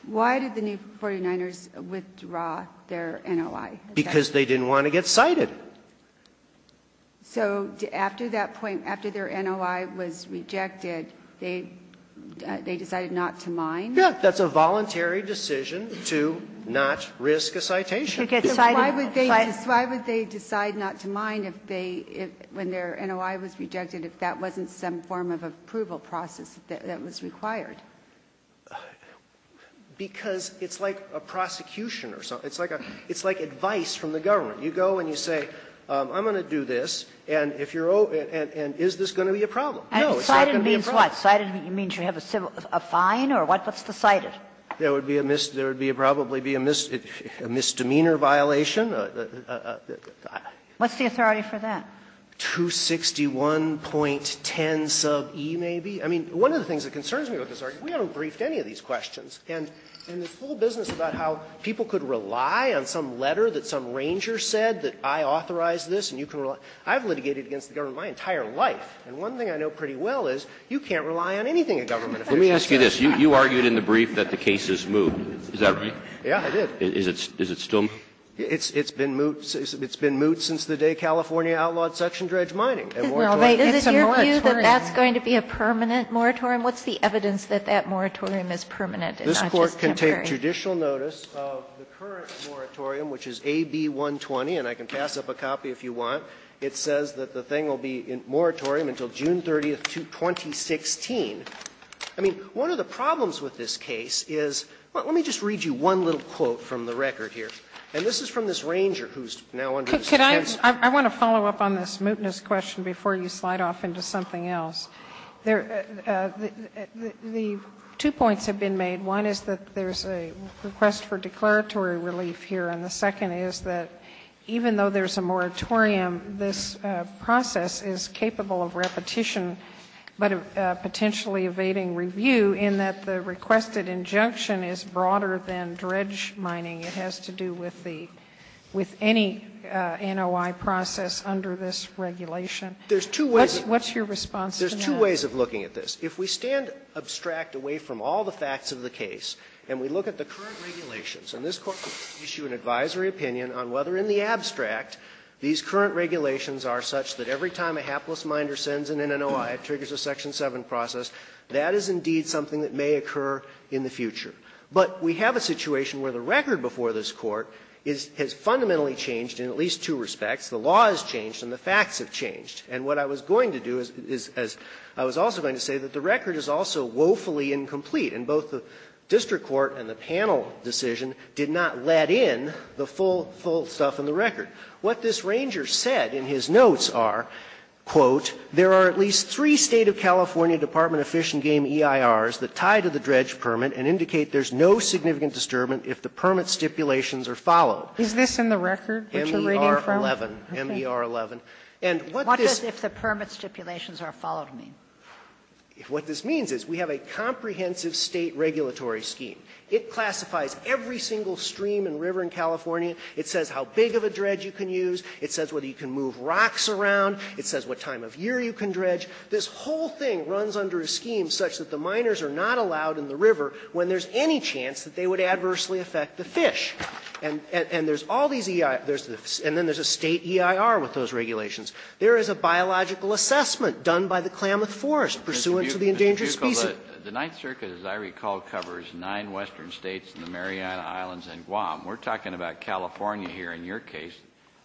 why did the New 49ers withdraw their NOI? Because they didn't want to get cited. So after that point, after their NOI was rejected, they decided not to mine? Yes. That's a voluntary decision to not risk a citation. Why would they decide not to mine if they, when their NOI was rejected, if that wasn't some form of approval process that was required? Because it's like a prosecution or something. It's like advice from the government. You go and you say, I'm going to do this, and if you're going to do this, is this going to be a problem? No, it's not going to be a problem. Cited means what? Cited means you have a fine or what's decided? There would be a misdemeanor violation. What's the authority for that? 261.10 sub e, maybe. I mean, one of the things that concerns me about this argument, we haven't briefed any of these questions. And this whole business about how people could rely on some letter that some ranger said that I authorized this and you can rely on it, I've litigated against the government my entire life. And one thing I know pretty well is you can't rely on anything a government official says. Let me ask you this. You argued in the brief that the case is moot, is that right? Yeah, I did. Is it still moot? It's been moot since the day California outlawed suction dredge mining. It's a moratorium. Is it your view that that's going to be a permanent moratorium? What's the evidence that that moratorium is permanent and not just temporary? This Court can take judicial notice of the current moratorium, which is AB-120, and I can pass up a copy if you want. It says that the thing will be in moratorium until June 30th, 2016. I mean, one of the problems with this case is let me just read you one little quote from the record here. And this is from this ranger who's now under this attempt to Could I, I want to follow up on this mootness question before you slide off into something else. There, the two points have been made. One is that there's a request for declaratory relief here, and the second is that even though there's a moratorium, this process is capable of repetition, but potentially evading review in that the requested injunction is broader than dredge mining. It has to do with the, with any NOI process under this regulation. There's two ways. What's your response to that? There's two ways of looking at this. If we stand abstract away from all the facts of the case and we look at the current regulations, and this Court could issue an advisory opinion on whether in the abstract these current regulations are such that every time a hapless miner sends an NOI, it triggers a section 7 process, that is indeed something that may occur in the future. But we have a situation where the record before this Court is, has fundamentally changed in at least two respects. The law has changed and the facts have changed. And what I was going to do is, is, as I was also going to say, that the record is also woefully incomplete, and both the district court and the panel decision did not let in the full, full stuff in the record. What this ranger said in his notes are, quote, "...there are at least three State of California Department of Fish and Game EIRs that tie to the dredge permit and indicate there's no significant disturbance if the permit stipulations are followed." Sotomayor, M.E.R. 11. And what this means is we have a comprehensive State regulatory scheme. It classifies every single stream and river in California. It says how big of a dredge you can use. It says whether you can move rocks around. It says what time of year you can dredge. This whole thing runs under a scheme such that the miners are not allowed in the river when there's any chance that they would adversely affect the fish. And there's all these EIRs. And then there's a State EIR with those regulations. There is a biological assessment done by the Klamath Forest pursuant to the endangered species. Kennedy, Mr. Bucco, the Ninth Circuit, as I recall, covers nine western states and the Mariana Islands and Guam. We're talking about California here in your case.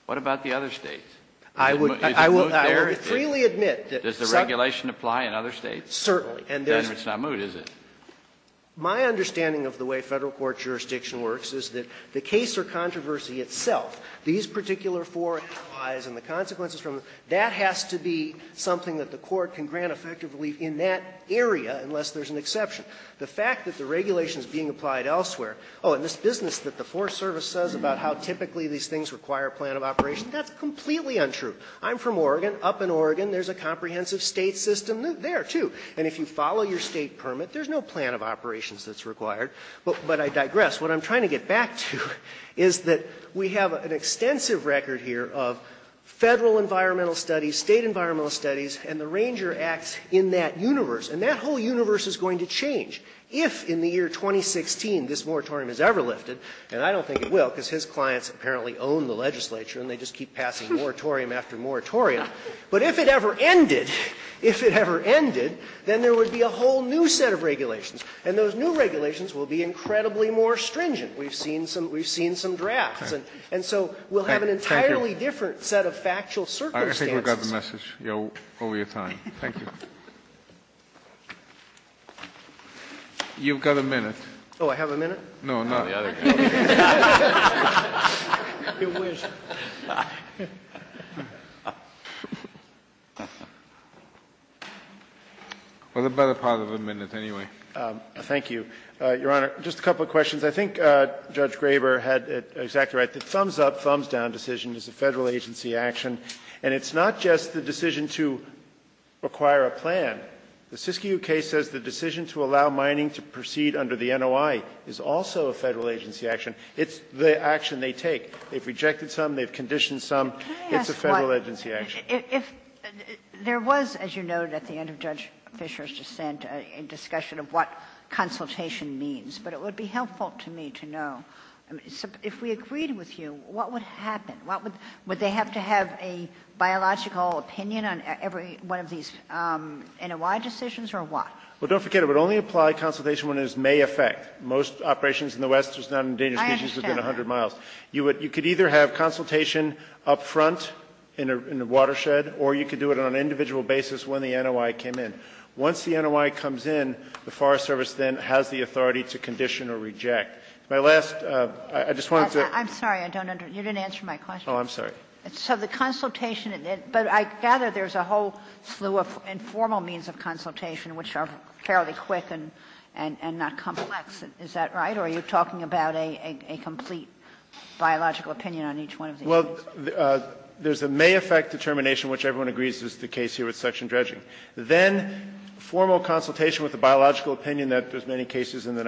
What about the other states? Is it moved there? I would freely admit that some of the states have been moved. Does the regulation apply in other states? Certainly. And there's a question. Then it's not moved, is it? My understanding of the way Federal court jurisdiction works is that the case or controversy itself, these particular four replies and the consequences from them, that has to be something that the court can grant effective relief in that area unless there's an exception. The fact that the regulation is being applied elsewhere, oh, and this business that the Forest Service says about how typically these things require a plan of operation, that's completely untrue. I'm from Oregon. Up in Oregon there's a comprehensive State system there, too. And if you follow your State permit, there's no plan of operations that's required. But I digress. What I'm trying to get back to is that we have an extensive record here of Federal environmental studies, State environmental studies, and the Ranger Acts in that universe. And that whole universe is going to change if in the year 2016 this moratorium is ever lifted. And I don't think it will, because his clients apparently own the legislature and they just keep passing moratorium after moratorium. But if it ever ended, if it ever ended, then there would be a whole new set of regulations. And those new regulations will be incredibly more stringent. We've seen some we've seen some drafts. And so we'll have an entirely different set of factual circumstances. Kennedy. You've got a minute. Oh, I have a minute? No, not. The other guy. It was. Well, the better part of a minute anyway. Thank you, Your Honor. Just a couple of questions. I think Judge Graber had it exactly right. The thumbs-up, thumbs-down decision is a Federal agency action. And it's not just the decision to acquire a plan. The SISC-UK says the decision to allow mining to proceed under the NOI is also a Federal agency action. It's the action they take. They've rejected some. They've conditioned some. It's a Federal agency action. If there was, as you noted at the end of Judge Fischer's dissent, a discussion of what consultation means. But it would be helpful to me to know, if we agreed with you, what would happen? What would they have to have a biological opinion on every one of these NOI decisions or what? Well, don't forget, it would only apply consultation when it is may affect. Most operations in the West are not endangered species within 100 miles. You could either have consultation up front in a watershed, or you could do it on an individual basis when the NOI came in. Once the NOI comes in, the Forest Service then has the authority to condition or reject. My last, I just wanted to. I'm sorry, I don't understand. You didn't answer my question. Oh, I'm sorry. So the consultation, but I gather there's a whole slew of informal means of consultation which are fairly quick and not complex, is that right? Or are you talking about a complete biological opinion on each one of these? Well, there's a may affect determination, which everyone agrees is the case here with section dredging. Then formal consultation with the biological opinion that there's many cases in the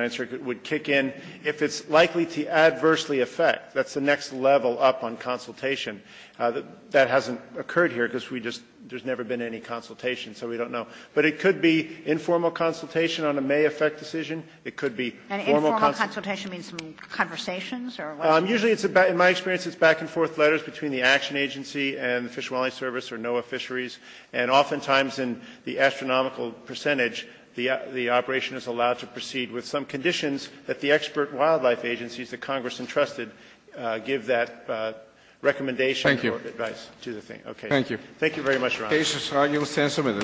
That's the next level up on consultation. That hasn't occurred here, because we just, there's never been any consultation, so we don't know. But it could be informal consultation on a may affect decision. It could be formal consultation. And informal consultation means conversations or what? Usually it's about, in my experience, it's back and forth letters between the action agency and the Fish and Wildlife Service or NOAA Fisheries. And oftentimes in the astronomical percentage, the operation is allowed to proceed with some conditions that the expert wildlife agencies that Congress entrusted give that recommendation or advice to the thing. Thank you. Thank you very much, Your Honor. Case is argued and stand submitted. Roger.